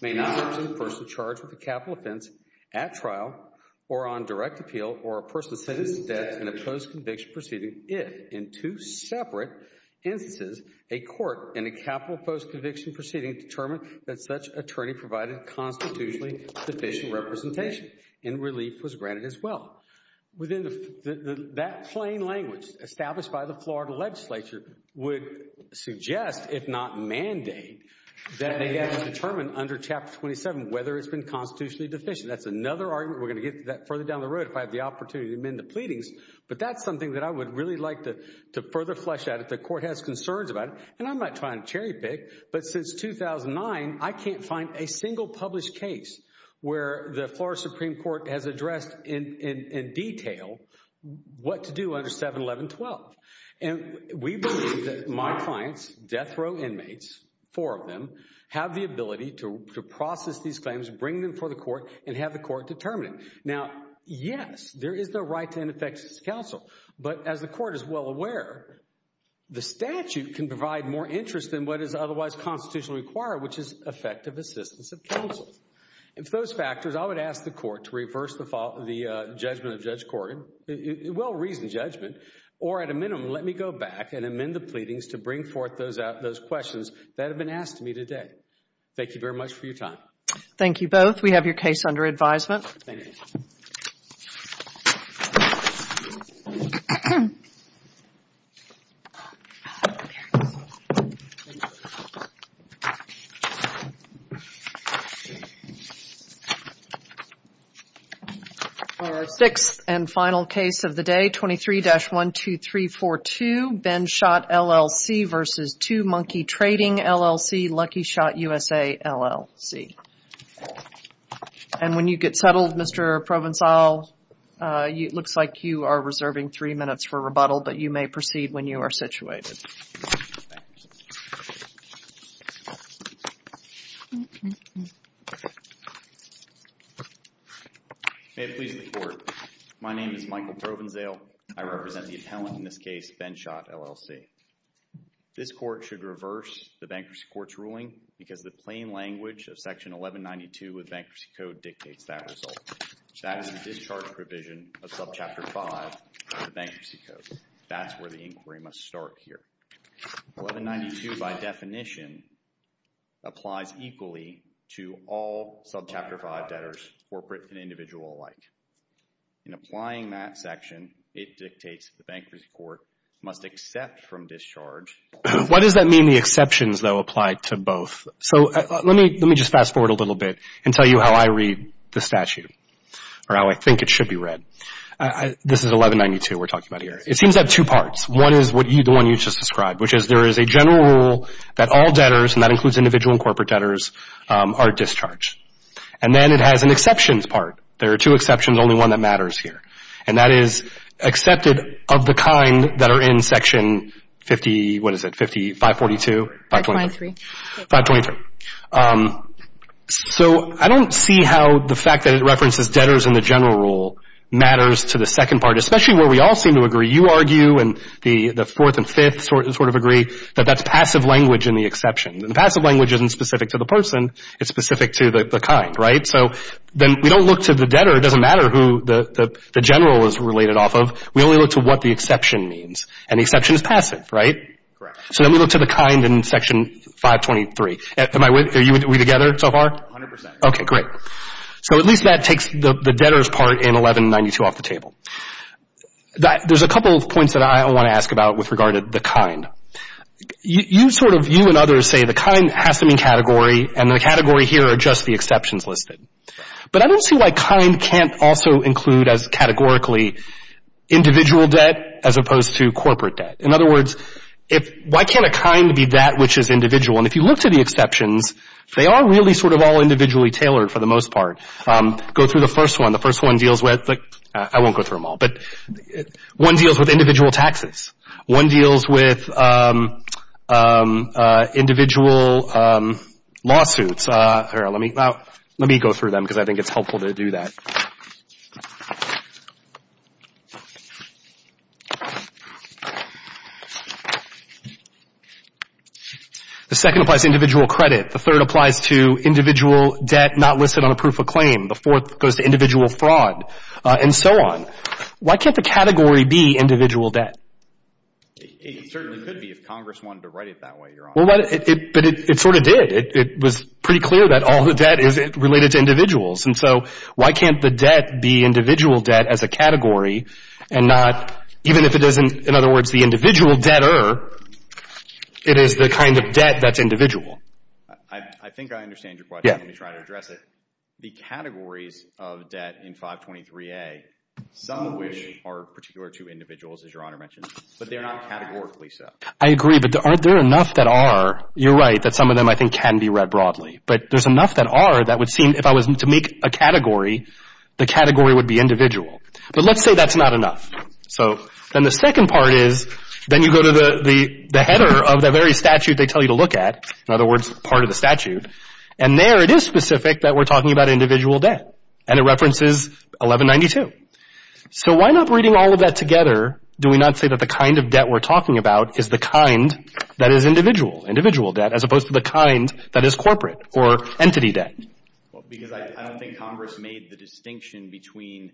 may not represent a person charged with a capital offense at trial or on direct appeal or a person sentenced to death in a post-conviction proceeding if, in two separate instances, a court in a capital post-conviction proceeding determined that such attorney provided constitutionally deficient representation and relief was granted as well. That plain language established by the Florida legislature would suggest, if not mandate, that it has determined under Chapter 27 whether it's been constitutionally deficient. That's another argument. We're going to get that further down the road if I have the opportunity to amend the pleadings. But that's something that I would really like to further flesh out if the court has concerns about it. And I'm not trying to cherry-pick, but since 2009, I can't find a single published case where the Florida Supreme Court has addressed in detail what to do under 711.12. And we believe that my clients, death row inmates, four of them, have the ability to process these claims, bring them before the court, and have the court determine it. Now, yes, there is the right to ineffective counsel, but as the court is well aware, the statute can provide more interest than what is otherwise constitutionally required, which is effective assistance of counsel. If those factors, I would ask the court to reverse the judgment of Judge Corgan. It will reason judgment. Or at a minimum, let me go back and amend the pleadings to bring forth those questions that have been asked to me today. Thank you very much for your time. Thank you both. We have your case under advisement. Thank you. Thank you. Our sixth and final case of the day, 23-12342, Ben Schott, LLC, versus Two Monkey Trading, LLC, Lucky Shot USA, LLC. And when you get settled, Mr. Provencal, it looks like you are reserving three minutes for rebuttal, but you may proceed when you are situated. May it please the court. My name is Michael Provencal. I represent the appellant in this case, Ben Schott, LLC. This court should reverse the bankruptcy court's ruling because the plain language of Section 1192 of the Bankruptcy Code dictates that result. That is the discharge provision of Subchapter 5 of the Bankruptcy Code. That's where the inquiry must start here. 1192, by definition, applies equally to all Subchapter 5 debtors, corporate and individual alike. In applying that section, it dictates the Bankruptcy Court must accept from discharge. Why does that mean the exceptions, though, apply to both? Let me just fast forward a little bit and tell you how I read the statute or how I think it should be read. This is 1192 we're talking about here. It seems to have two parts. One is the one you just described, which is there is a general rule that all debtors, and that includes individual and corporate debtors, are discharged. Then it has an exceptions part. There are two exceptions, only one that matters here. And that is accepted of the kind that are in Section 50, what is it, 542? 523. 523. So I don't see how the fact that it references debtors in the general rule matters to the second part, especially where we all seem to agree. You argue, and the fourth and fifth sort of agree, that that's passive language in the exception. The passive language isn't specific to the person. It's specific to the kind, right? So then we don't look to the debtor. It doesn't matter who the general is related off of. We only look to what the exception means. And the exception is passive, right? Correct. So then we look to the kind in Section 523. Are we together so far? A hundred percent. Okay, great. So at least that takes the debtors part in 1192 off the table. There's a couple of points that I want to ask about with regard to the kind. You sort of, you and others say the kind has to mean category, and the category here are just the exceptions listed. But I don't see why kind can't also include as categorically individual debt as opposed to corporate debt. In other words, why can't a kind be that which is individual? And if you look to the exceptions, they are really sort of all individually tailored for the most part. Go through the first one. The first one deals with, I won't go through them all, but one deals with individual taxes. One deals with individual lawsuits. Let me go through them because I think it's helpful to do that. The second applies to individual credit. The third applies to individual debt not listed on a proof of claim. The fourth goes to individual fraud, and so on. Why can't the category be individual debt? It certainly could be if Congress wanted to write it that way, your Honor. But it sort of did. It was pretty clear that all the debt is related to individuals. And so why can't the debt be individual debt as a category and not, even if it isn't, in other words, the individual debtor, it is the kind of debt that's individual? I think I understand your question. Let me try to address it. The categories of debt in 523A, some of which are particular to individuals, as your Honor mentioned, but they're not categorically so. I agree, but aren't there enough that are? You're right that some of them I think can be read broadly. But there's enough that are that would seem, if I was to make a category, the category would be individual. But let's say that's not enough. So then the second part is, then you go to the header of the very statute they tell you to look at, in other words, part of the statute, and there it is specific that we're talking about individual debt. And it references 1192. So why not reading all of that together, do we not say that the kind of debt we're talking about is the kind that is individual, individual debt, as opposed to the kind that is corporate or entity debt? Because I don't think Congress made the distinction between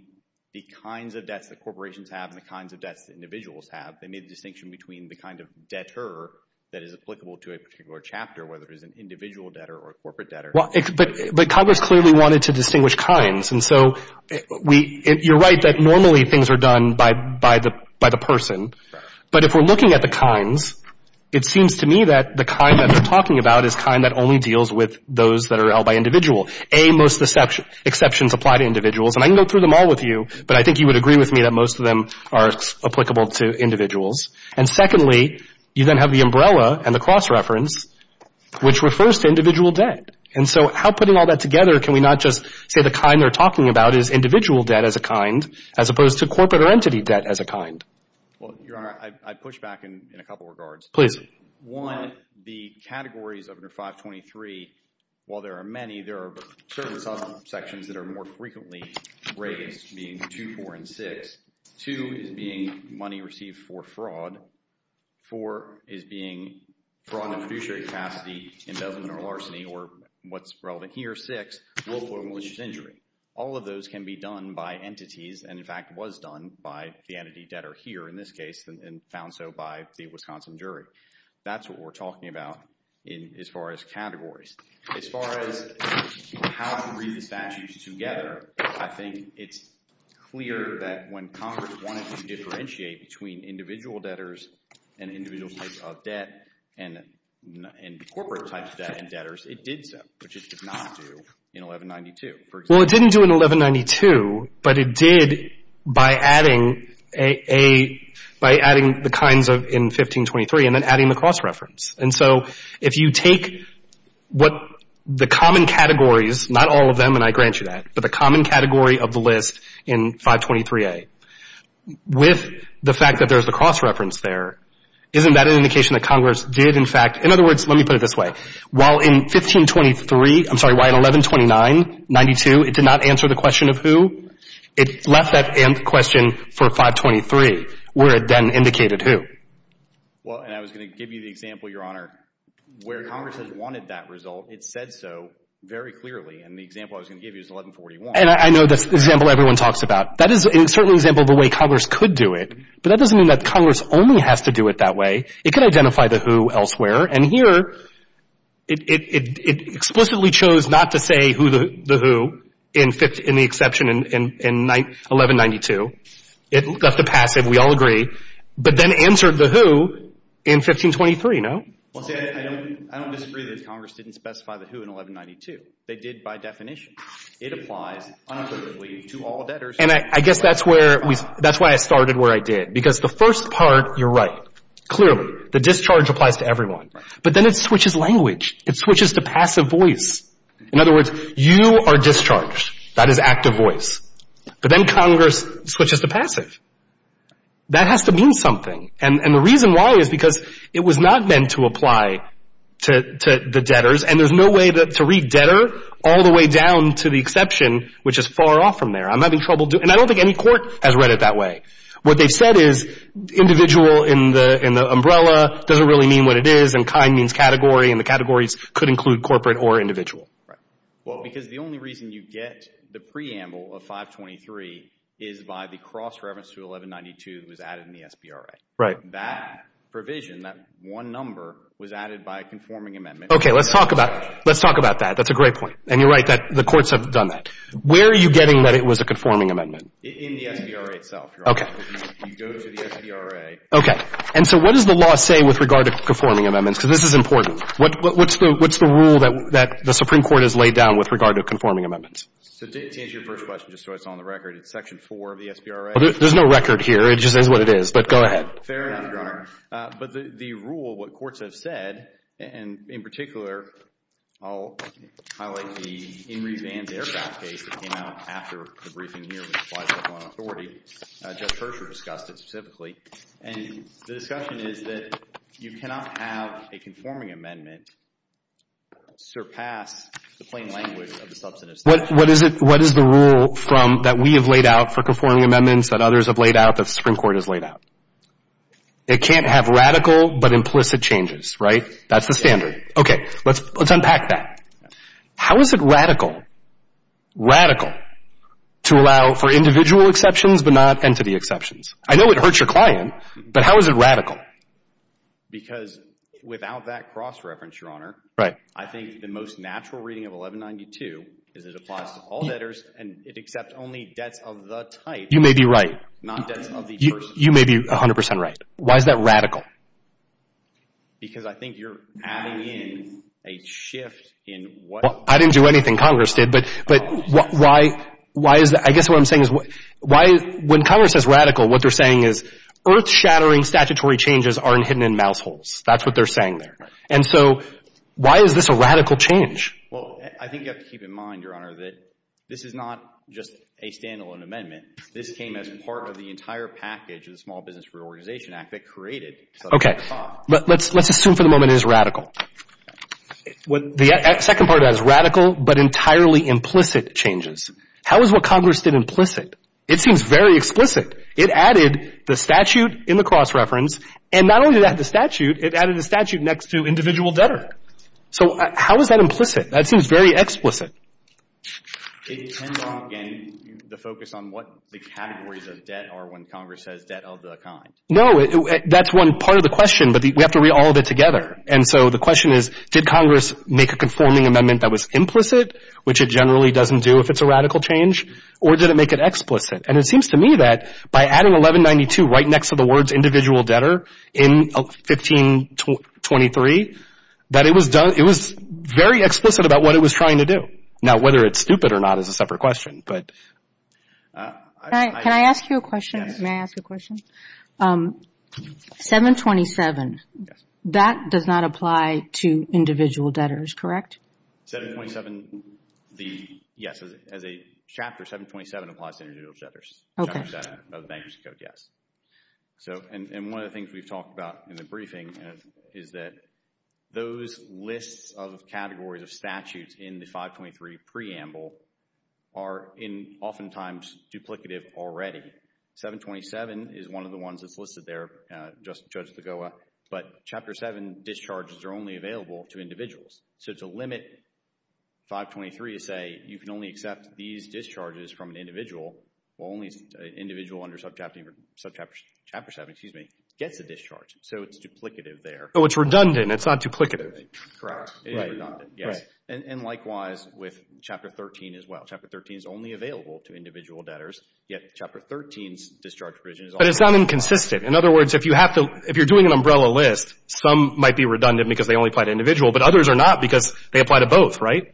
the kinds of debts that corporations have and the kinds of debts that individuals have. They made the distinction between the kind of debtor that is applicable to a particular chapter, whether it is an individual debtor or a corporate debtor. But Congress clearly wanted to distinguish kinds. And so you're right that normally things are done by the person. But if we're looking at the kinds, it seems to me that the kind that they're talking about is the kind that only deals with those that are held by individuals. A, most exceptions apply to individuals. And I can go through them all with you, but I think you would agree with me that most of them are applicable to individuals. And secondly, you then have the umbrella and the cross-reference, which refers to individual debt. And so how, putting all that together, can we not just say the kind they're talking about is individual debt as a kind, as opposed to corporate or entity debt as a kind? Well, Your Honor, I'd push back in a couple of regards. One, the categories under 523, while there are many, there are certain subsections that are more frequently raised, being 2, 4, and 6. 2 is being money received for fraud. 4 is being fraud in a fiduciary capacity, embezzlement or larceny, or what's relevant here, 6, willful or malicious injury. All of those can be done by entities, and in fact was done by the entity debtor here in this case, and found so by the Wisconsin jury. That's what we're talking about as far as categories. As far as how to read the statutes together, I think it's clear that when Congress wanted to differentiate between individual debtors and individual types of debt and corporate types of debt and debtors, it did so, which it did not do in 1192. Well, it didn't do it in 1192, but it did by adding the kinds in 1523 and then adding the cross-reference. And so if you take what the common categories, not all of them, and I grant you that, but the common category of the list in 523A, with the fact that there's a cross-reference there, isn't that an indication that Congress did in fact, in other words, let me put it this way, while in 1523, I'm sorry, why in 1129, 92, it did not answer the question of who, it left that question for 523 where it then indicated who. Well, and I was going to give you the example, Your Honor, where Congress has wanted that result, it said so very clearly, and the example I was going to give you is 1141. And I know that's the example everyone talks about. That is certainly an example of the way Congress could do it, but that doesn't mean that Congress only has to do it that way. It could identify the who elsewhere, and here, it explicitly chose not to say the who, in the exception in 1192. It left a passive, we all agree, but then answered the who in 1523, no? I don't disagree that Congress didn't specify the who in 1192. They did by definition. It applies unoccurrently to all debtors. And I guess that's why I started where I did, because the first part, you're right. Clearly, the discharge applies to everyone. But then it switches language. It switches to passive voice. In other words, you are discharged. That is active voice. But then Congress switches to passive. That has to mean something, and the reason why is because it was not meant to apply to the debtors, and there's no way to read debtor all the way down to the exception, which is far off from there. I'm having trouble doing it. And I don't think any court has read it that way. What they've said is individual in the umbrella doesn't really mean what it is, and kind means category, and the categories could include corporate or individual. Well, because the only reason you get the preamble of 523 is by the cross-reference to 1192 that was added in the SBRA. That provision, that one number, was added by a conforming amendment. Okay. Let's talk about that. That's a great point, and you're right. The courts have done that. Where are you getting that it was a conforming amendment? In the SBRA itself. Okay. You go to the SBRA. Okay. And so what does the law say with regard to conforming amendments? Because this is important. What's the rule that the Supreme Court has laid down with regard to conforming amendments? To answer your first question, just so it's on the record, it's Section 4 of the SBRA. There's no record here. It just is what it is. But go ahead. Fair enough, Your Honor. But the rule, what courts have said, and in particular, I'll highlight the In Re Vans Aircraft case that came out after the briefing here with the 521 authority. Judge Persher discussed it specifically. And the discussion is that you cannot have a conforming amendment surpass the plain language of the substantive statute. What is the rule that we have laid out for conforming amendments that others have laid out that the Supreme Court has laid out? It can't have radical but implicit changes, right? That's the standard. Okay. Let's unpack that. How is it radical, radical, to allow for individual exceptions but not entity exceptions? I know it hurts your client, but how is it radical? Because without that cross-reference, Your Honor, I think the most natural reading of 1192 is it applies to all debtors and it accepts only debts of the type. You may be right. Not debts of the person. You may be 100 percent right. Why is that radical? Because I think you're adding in a shift in what... Well, I didn't do anything. Congress did. But why is that? I guess what I'm saying is when Congress says radical, what they're saying is earth-shattering statutory changes aren't hidden in mouse holes. That's what they're saying there. Right. And so why is this a radical change? Well, I think you have to keep in mind, Your Honor, that this is not just a standalone amendment. This came as part of the entire package of the Small Business Reorganization Act that created... Okay. Let's assume for the moment it is radical. The second part is radical but entirely implicit changes. How is what Congress did implicit? It seems very explicit. It added the statute in the cross-reference. And not only did it add the statute, it added the statute next to individual debtor. So how is that implicit? That seems very explicit. It tends on, again, the focus on what the categories of debt are when Congress says debt of the kind. No. That's one part of the question. But we have to read all of it together. And so the question is, did Congress make a conforming amendment that was implicit, which it generally doesn't do if it's a radical change, or did it make it explicit? And it seems to me that by adding 1192 right next to the words individual debtor in 1523, that it was very explicit about what it was trying to do. Now, whether it's stupid or not is a separate question, but... Can I ask you a question? May I ask a question? 727, that does not apply to individual debtors, correct? 727, yes. As a chapter, 727 applies to individual debtors. Okay. And one of the things we've talked about in the briefing is that those lists of categories of statutes in the 523 preamble are oftentimes duplicative already. 727 is one of the ones that's listed there, Judge Lagoa, but Chapter 7 discharges are only available to individuals. So to limit 523 to say you can only accept these discharges from an individual, only an individual under Chapter 7 gets a discharge. So it's duplicative there. Oh, it's redundant. It's not duplicative. Correct. It is redundant, yes. And likewise with Chapter 13 as well. Chapter 13 is only available to individual debtors, yet Chapter 13's discharge provision... But it's not inconsistent. In other words, if you're doing an umbrella list, some might be redundant because they only apply to individual, but others are not because they apply to both, right?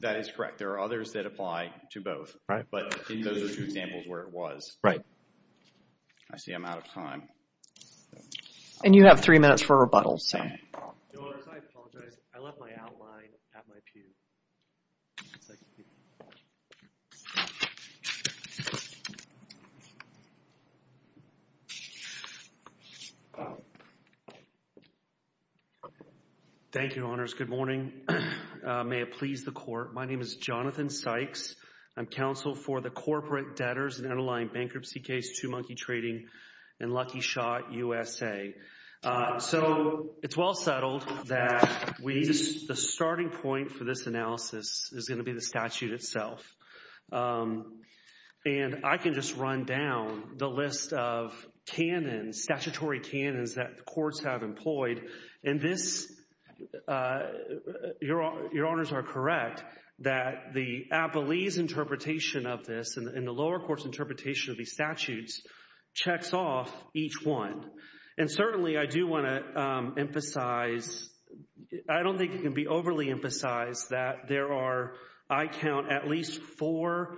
That is correct. There are others that apply to both. But those are two examples where it was. I see I'm out of time. And you have three minutes for rebuttals. Thank you, Honors. Good morning. May it please the Court. My name is Jonathan Sykes. I'm counsel for the Corporate Debtors and Underlying Bankruptcy Case, Two Monkey Trading, and Lucky Shot USA. So it's well settled that the starting point for this analysis is going to be the statute itself. And I can just run down the list of canons, statutory canons, that the courts have employed. And this... Your Honors are correct that the Appellee's interpretation of this and the lower court's interpretation of these statutes checks off each one. And certainly, I do want to emphasize... I don't think it can be overly emphasized that there are, I count, at least four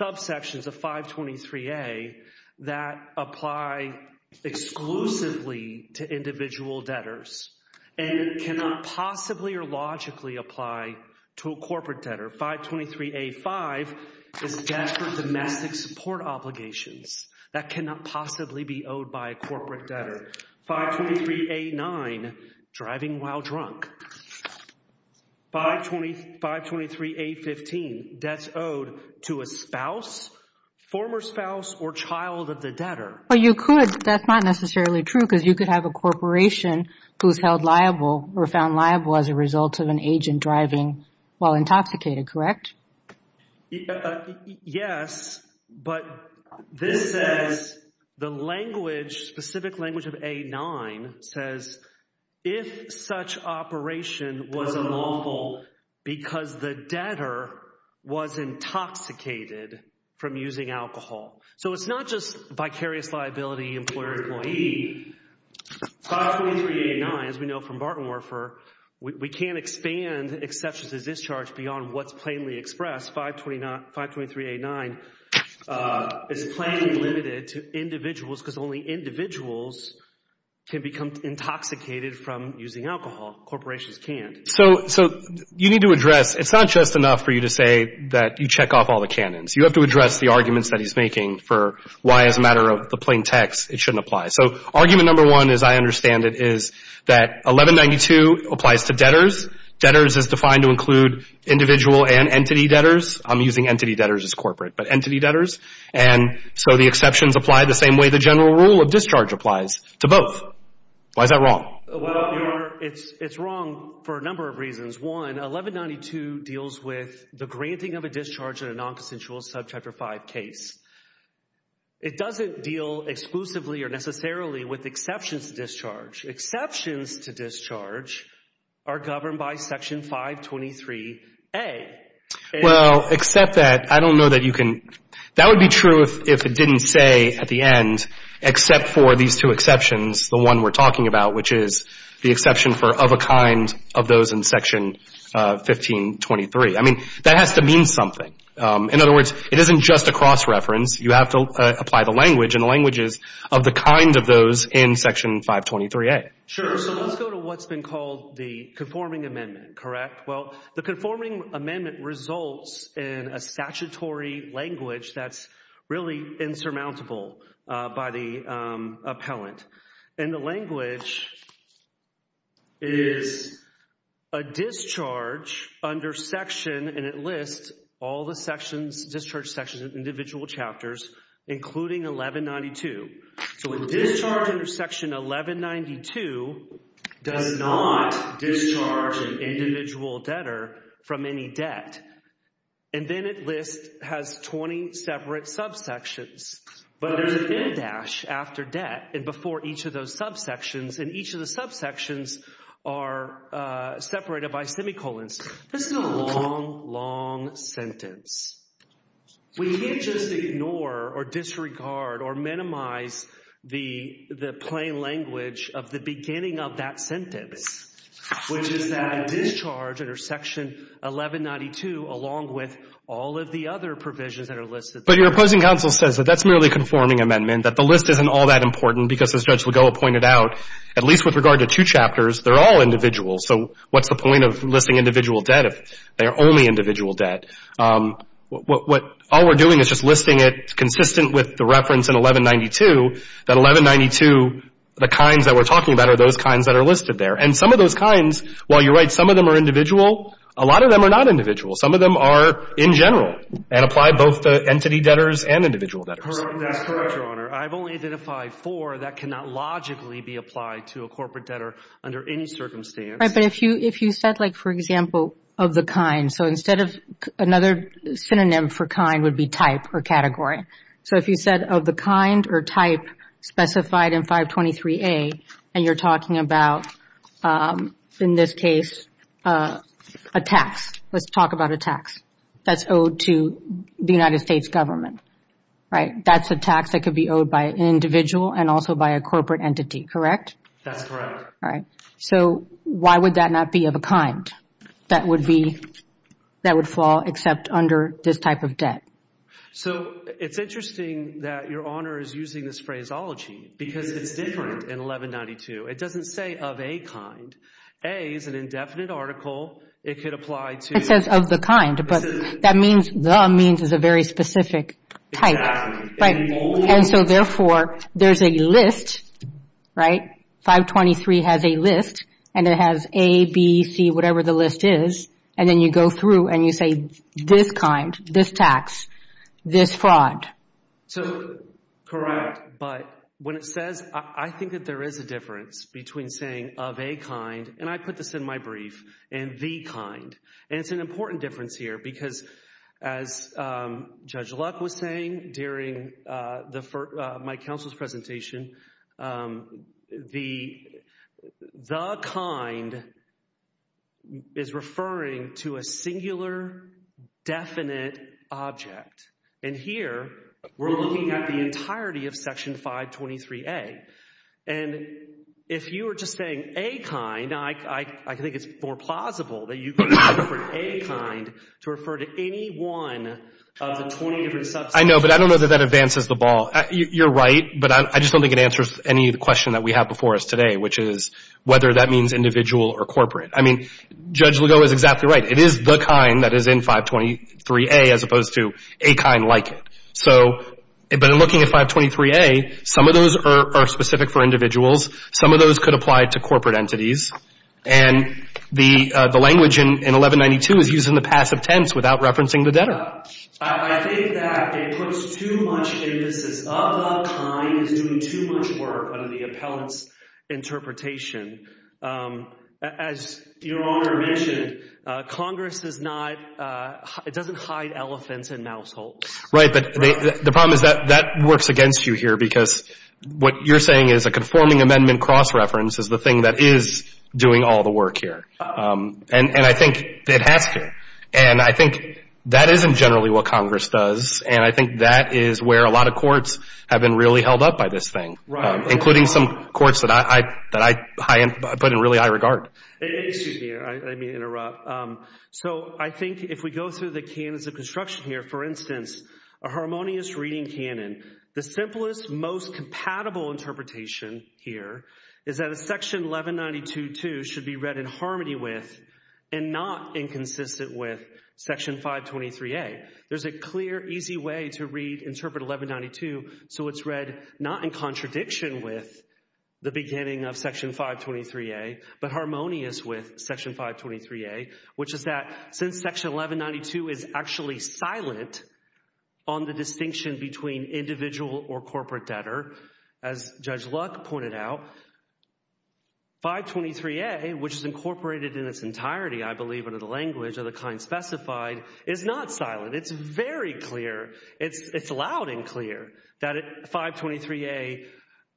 subsections of 523A that apply exclusively to individual debtors and cannot possibly or logically apply to a corporate debtor. 523A-5 is debt for domestic support obligations that cannot possibly be owed by a corporate debtor. 523A-9, driving while drunk. 523A-15, debts owed to a spouse, former spouse, or child of the debtor. But you could, but that's not necessarily true because you could have a corporation who's held liable or found liable as a result of an agent driving while intoxicated, correct? Yes, but this says, the language, specific language of A-9 says, if such operation was unlawful because the debtor was intoxicated from using alcohol. So it's not just vicarious liability, employer-employee. 523A-9, as we know from Barton Warfer, we can't expand exceptions to discharge beyond what's plainly expressed. 523A-9 is plainly limited to individuals because only individuals can become intoxicated from using alcohol. Corporations can't. So you need to address, it's not just enough for you to say that you check off all the canons. You have to address the arguments that he's making for why, as a matter of the plain text, it shouldn't apply. So argument number one, as I understand it, is that 1192 applies to debtors. Debtors is defined to include individual and entity debtors. I'm using entity debtors as corporate, but entity debtors. And so the exceptions apply the same way the general rule of discharge applies to both. Why is that wrong? Well, Your Honor, it's wrong for a number of reasons. One, 1192 deals with the granting of a discharge in a nonconsensual Subchapter 5 case. It doesn't deal exclusively or necessarily with exceptions to discharge. Exceptions to discharge are governed by Section 523A. Well, except that, I don't know that you can, that would be true if it didn't say at the end, except for these two exceptions, the one we're talking about, which is the exception for of a kind of those in Section 1523. I mean, that has to mean something. In other words, it isn't just a cross-reference. You have to apply the language, and the language is of the kind of those in Section 523A. Sure. So let's go to what's been called the conforming amendment, correct? Well, the conforming amendment results in a statutory language that's really insurmountable by the appellant. And the language is a discharge under Section, and it lists all the sections, discharge sections of individual chapters, including 1192. So a discharge under Section 1192 does not discharge an individual debtor from any debt. And then it lists, has 20 separate subsections. But there's an end dash after debt and before each of those subsections, and each of the subsections are separated by semicolons. This is a long, long sentence. We can't just ignore or disregard or minimize the plain language of the beginning of that sentence, which is that a discharge under Section 1192, along with all of the other provisions that are listed there. But your opposing counsel says that that's merely a conforming amendment, that the list isn't all that important because, as Judge Legoa pointed out, at least with regard to two chapters, they're all individuals. So what's the point of listing individual debt if they're only individual debt? What all we're doing is just listing it consistent with the reference in 1192, that 1192, the kinds that we're talking about are those kinds that are listed there. And some of those kinds, while you're right, some of them are individual, a lot of them are not individual. Some of them are in general and apply both to entity debtors and individual debtors. Your Honor, I've only identified four that cannot logically be applied to a corporate debtor under any circumstance. Right, but if you said, like, for example, of the kind, so instead of another synonym for kind would be type or category. So if you said of the kind or type specified in 523A, and you're talking about, in this case, a tax. Let's talk about a tax that's owed to the United States government, right? That's a tax that could be owed by an individual and also by a corporate entity, correct? That's correct. All right. So why would that not be of a kind that would fall except under this type of debt? So it's interesting that Your Honor is using this phraseology because it's different in 1192. It doesn't say of a kind. A is an indefinite article. It could apply to— It says of the kind, but that means the means is a very specific type. Exactly. And so, therefore, there's a list, right? 523 has a list, and it has A, B, C, whatever the list is, and then you go through and you say this kind, this tax, this fraud. So, correct, but when it says—I think that there is a difference between saying of a kind, and I put this in my brief, and the kind. And it's an important difference here because, as Judge Luck was saying during my counsel's presentation, the kind is referring to a singular, definite object. And here, we're looking at the entirety of Section 523A. And if you were just saying a kind, I think it's more plausible that you could refer to a kind to refer to any one of the 20 different subsections. I know, but I don't know that that advances the ball. You're right, but I just don't think it answers any of the question that we have before us today, which is whether that means individual or corporate. I mean, Judge Lugo is exactly right. It is the kind that is in 523A as opposed to a kind like it. So, but in looking at 523A, some of those are specific for individuals. Some of those could apply to corporate entities. And the language in 1192 is using the passive tense without referencing the debtor. I think that it puts too much emphasis of a kind is doing too much work under the appellant's interpretation. As Your Honor mentioned, Congress is not, it doesn't hide elephants in mouse holes. Right, but the problem is that that works against you here, because what you're saying is a conforming amendment cross-reference is the thing that is doing all the work here. And I think it has to. And I think that isn't generally what Congress does, and I think that is where a lot of courts have been really held up by this thing, including some courts that I put in really high regard. Excuse me, I didn't mean to interrupt. So I think if we go through the canons of construction here, for instance, a harmonious reading canon, the simplest, most compatible interpretation here is that a Section 1192-2 should be read in harmony with and not inconsistent with Section 523A. There's a clear, easy way to read and interpret 1192, so it's read not in contradiction with the beginning of Section 523A, but harmonious with Section 523A, which is that since Section 1192 is actually silent on the distinction between individual or corporate debtor, as Judge Luck pointed out, 523A, which is incorporated in its entirety, I believe, under the language of the kind specified, is not silent. It's very clear. It's loud and clear that 523A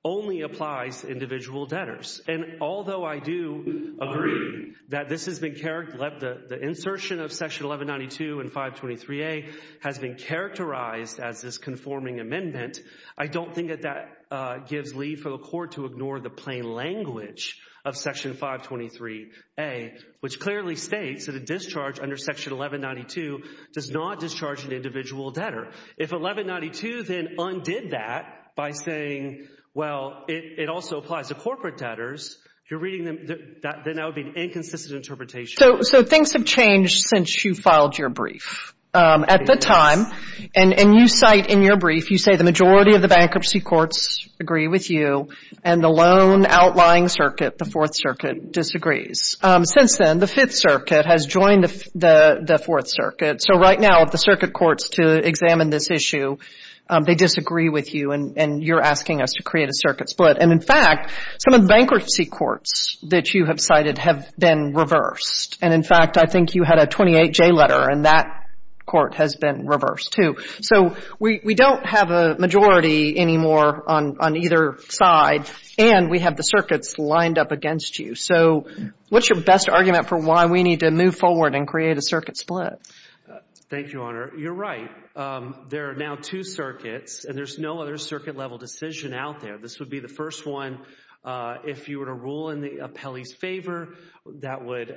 only applies to individual debtors. And although I do agree that the insertion of Section 1192 and 523A has been characterized as this conforming amendment, I don't think that that gives leave for the Court to ignore the plain language of Section 523A, which clearly states that a discharge under Section 1192 does not discharge an individual debtor. If 1192 then undid that by saying, well, it also applies to corporate debtors, then that would be an inconsistent interpretation. So things have changed since you filed your brief. At the time, and you cite in your brief, you say the majority of the bankruptcy courts agree with you, and the loan outlying circuit, the Fourth Circuit, disagrees. Since then, the Fifth Circuit has joined the Fourth Circuit. So right now, the circuit courts to examine this issue, they disagree with you, and you're asking us to create a circuit split. And, in fact, some of the bankruptcy courts that you have cited have been reversed. And, in fact, I think you had a 28-J letter, and that court has been reversed, too. So we don't have a majority anymore on either side, and we have the circuits lined up against you. So what's your best argument for why we need to move forward and create a circuit split? Thank you, Your Honor. You're right. There are now two circuits, and there's no other circuit-level decision out there. This would be the first one. If you were to rule in the appellee's favor, that would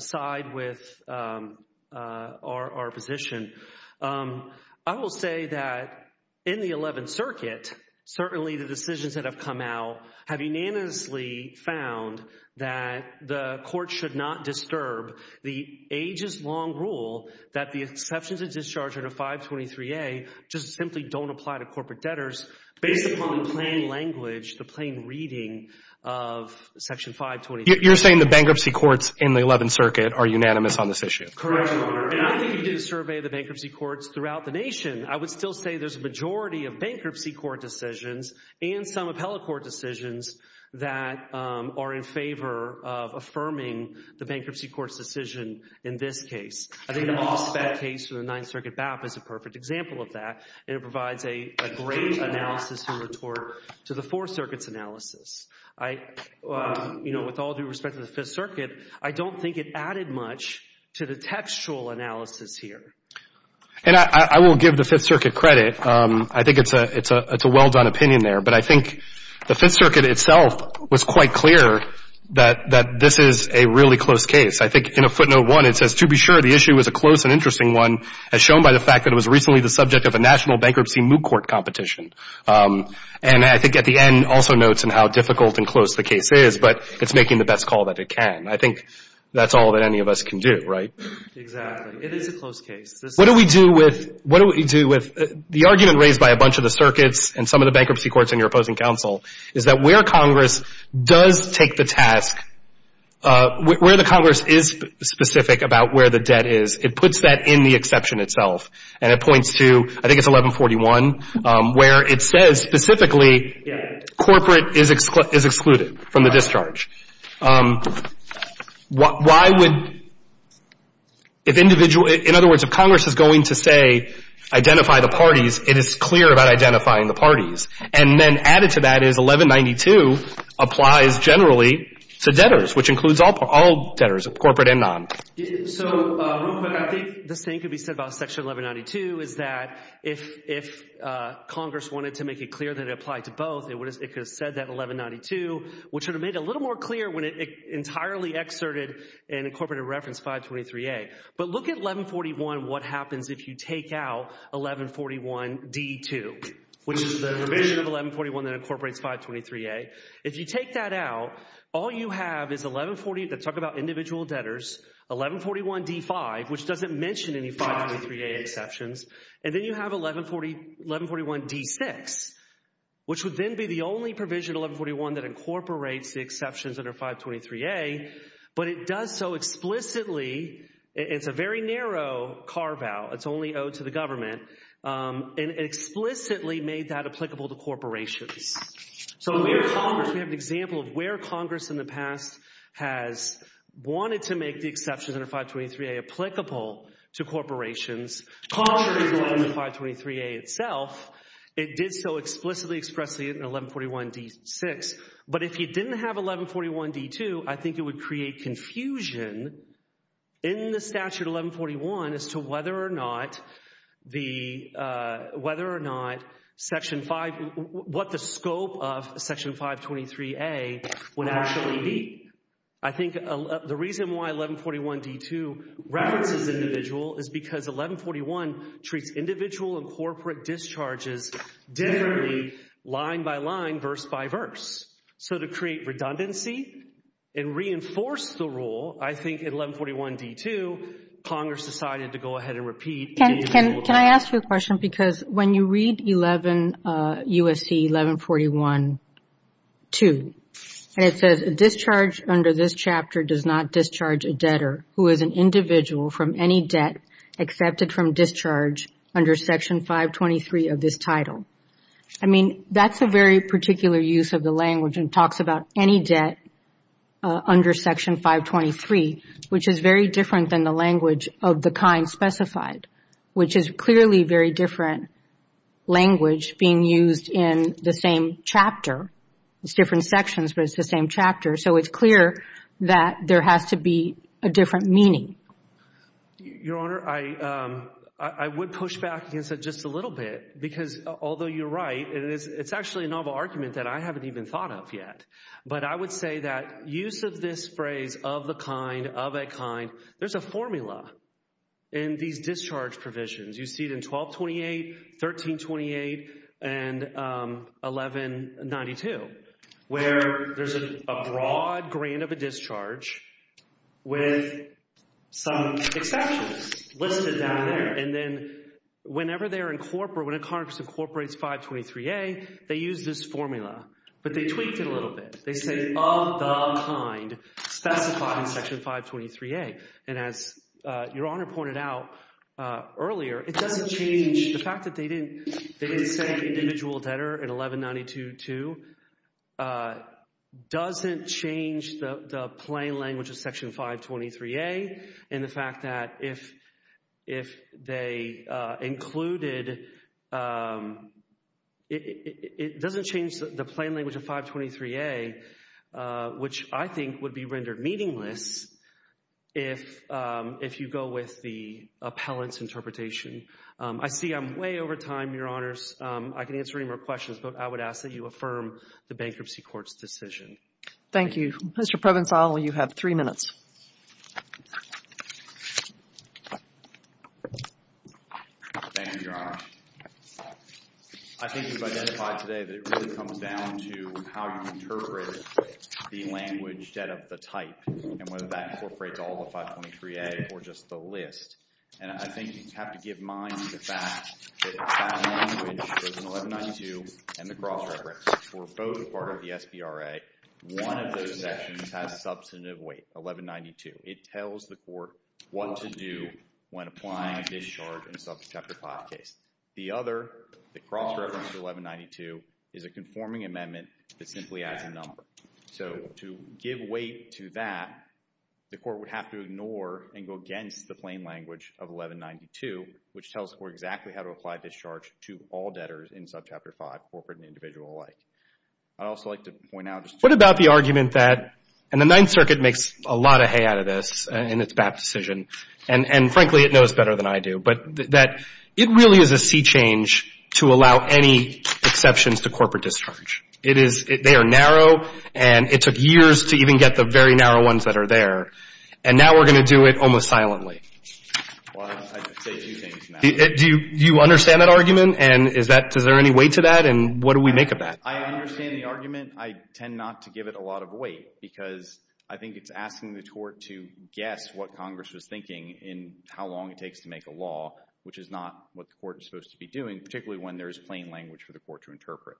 side with our position. I will say that, in the Eleventh Circuit, certainly the decisions that have come out have unanimously found that the court should not disturb the ages-long rule that the exceptions of discharge under 523A just simply don't apply to corporate debtors based upon the plain language, the plain reading of Section 523A. You're saying the bankruptcy courts in the Eleventh Circuit are unanimous on this issue? Correct, Your Honor. And I think if you did a survey of the bankruptcy courts throughout the nation, I would still say there's a majority of bankruptcy court decisions and some appellate court decisions that are in favor of affirming the bankruptcy court's decision in this case. I think the Moss-Fett case for the Ninth Circuit BAP is a perfect example of that, and it provides a great analysis in retort to the Fourth Circuit's analysis. I, you know, with all due respect to the Fifth Circuit, I don't think it added much to the textual analysis here. And I will give the Fifth Circuit credit. I think it's a well-done opinion there. But I think the Fifth Circuit itself was quite clear that this is a really close case. I think in a footnote one, it says, To be sure, the issue is a close and interesting one, as shown by the fact that it was recently the subject of a national bankruptcy moot court competition. And I think at the end also notes on how difficult and close the case is, but it's making the best call that it can. I think that's all that any of us can do, right? Exactly. It is a close case. What do we do with the argument raised by a bunch of the circuits and some of the bankruptcy courts in your opposing counsel is that where Congress does take the task, where the Congress is specific about where the debt is, it puts that in the exception itself. And it points to, I think it's 1141, where it says specifically corporate is excluded from the discharge. Why would, if individual, in other words, if Congress is going to say identify the parties, it is clear about identifying the parties. And then added to that is 1192 applies generally to debtors, which includes all debtors, corporate and non. So, Rupert, I think this thing could be said about section 1192, is that if Congress wanted to make it clear that it applied to both, it could have said that in 1192, which would have made it a little more clear when it entirely excerpted and incorporated reference 523A. But look at 1141, what happens if you take out 1141d2, which is the provision of 1141 that incorporates 523A. If you take that out, all you have is 1140 that talk about individual debtors, 1141d5, which doesn't mention any 523A exceptions. And then you have 1141d6, which would then be the only provision, 1141, that incorporates the exceptions that are 523A. But it does so explicitly. It's a very narrow carve out. It's only owed to the government. And it explicitly made that applicable to corporations. So, we have Congress. We have an example of where Congress in the past has wanted to make the exceptions under 523A applicable to corporations. Contrary to the 523A itself, it did so explicitly expressly in 1141d6. But if you didn't have 1141d2, I think it would create confusion in the statute 1141 as to whether or not Section 5, what the scope of Section 523A would actually be. I think the reason why 1141d2 references individual is because 1141 treats individual and corporate discharges differently line by line, verse by verse. So, to create redundancy and reinforce the rule, I think in 1141d2, Congress decided to go ahead and repeat. Can I ask you a question? Because when you read USC 1141-2, and it says, discharge under this chapter does not discharge a debtor who is an individual from any debt accepted from discharge under Section 523 of this title. I mean, that's a very particular use of the language and talks about any debt under Section 523, which is very different than the language of the kind specified, which is clearly very different language being used in the same chapter. It's different sections, but it's the same chapter. So, it's clear that there has to be a different meaning. Your Honor, I would push back against it just a little bit because although you're right, it's actually a novel argument that I haven't even thought of yet. But I would say that use of this phrase, of the kind, of a kind, there's a formula in these discharge provisions. You see it in 1228, 1328, and 1192, where there's a broad grant of a discharge with some exceptions listed down there. And then whenever they're incorporated, when a Congress incorporates 523A, they use this formula. But they tweaked it a little bit. They say, of the kind specified in Section 523A. And as Your Honor pointed out earlier, it doesn't change the fact that they didn't say individual debtor in 1192-2 doesn't change the plain language of Section 523A and the fact that if they included, it doesn't change the plain language of 523A, which I think would be rendered meaningless if you go with the appellant's interpretation. I see I'm way over time, Your Honors. I can answer any more questions, but I would ask that you affirm the bankruptcy court's decision. Thank you. Mr. Provencal, you have three minutes. Thank you, Your Honor. I think you've identified today that it really comes down to how you interpret the language debt of the type and whether that incorporates all the 523A or just the list. And I think you have to give mind to the fact that that language goes in 1192 and the cross-reference. For both part of the SBRA, one of those sections has substantive weight, 1192. It tells the court what to do when applying discharge in Subchapter 5 case. The other, the cross-reference to 1192, is a conforming amendment that simply adds a number. So to give weight to that, the court would have to ignore and go against the plain language of 1192, which tells the court exactly how to apply discharge to all debtors in Subchapter 5, corporate and individual alike. I'd also like to point out... What about the argument that, and the Ninth Circuit makes a lot of hay out of this in its BAP decision, and frankly it knows better than I do, but that it really is a sea change to allow any exceptions to corporate discharge. It is, they are narrow, and it took years to even get the very narrow ones that are there. And now we're going to do it almost silently. Well, I'd say two things. Do you understand that argument? And is there any weight to that? And what do we make of that? I understand the argument. I tend not to give it a lot of weight because I think it's asking the court to guess what Congress was thinking in how long it takes to make a law, which is not what the court is supposed to be doing, particularly when there is plain language for the court to interpret.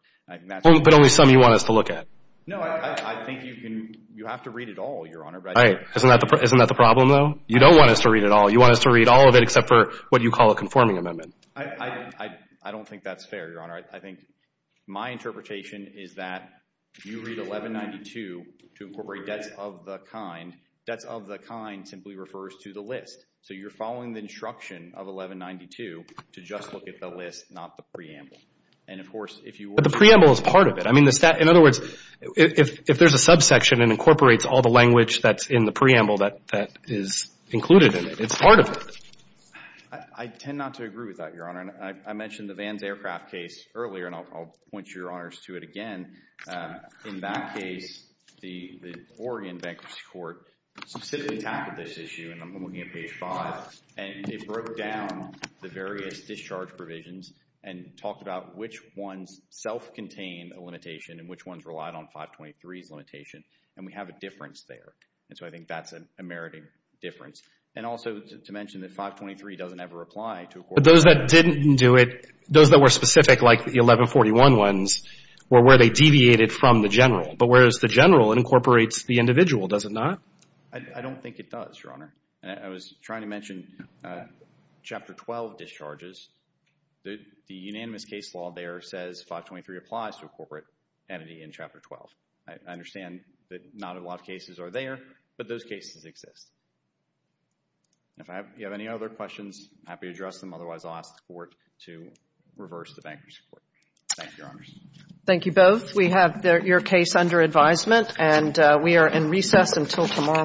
But only some you want us to look at? No, I think you have to read it all, Your Honor. Isn't that the problem, though? You don't want us to read it all. You want us to read all of it except for what you call a conforming amendment. I don't think that's fair, Your Honor. I think my interpretation is that you read 1192 to incorporate debts of the kind. Debts of the kind simply refers to the list. So you're following the instruction of 1192 to just look at the list, not the preamble. But the preamble is part of it. In other words, if there's a subsection and incorporates all the language that's in the preamble that is included in it, it's part of it. I tend not to agree with that, Your Honor. I mentioned the Vans aircraft case earlier and I'll point you, Your Honors, to it again. In that case, the Oregon Bankruptcy Court specifically tackled this issue, and I'm looking at page 5, and it broke down the various discharge provisions and talked about which ones self-contained a limitation and which ones relied on 523's limitation. And we have a difference there. And so I think that's a meriting difference. And also to mention that 523 doesn't ever apply to a corporate entity. But those that didn't do it, those that were specific like the 1141 ones, were where they deviated from the general. But whereas the general incorporates the individual, does it not? I don't think it does, Your Honor. I was trying to mention Chapter 12 discharges. The unanimous case law there says 523 applies to a corporate entity in Chapter 12. I understand that not a lot of cases are there, but those cases exist. If you have any other questions, I'm happy to address them. Otherwise, I'll ask the Court to reverse the bankruptcy court. Thank you, Your Honors. Thank you both. We have your case under advisement, and we are in recess until tomorrow morning.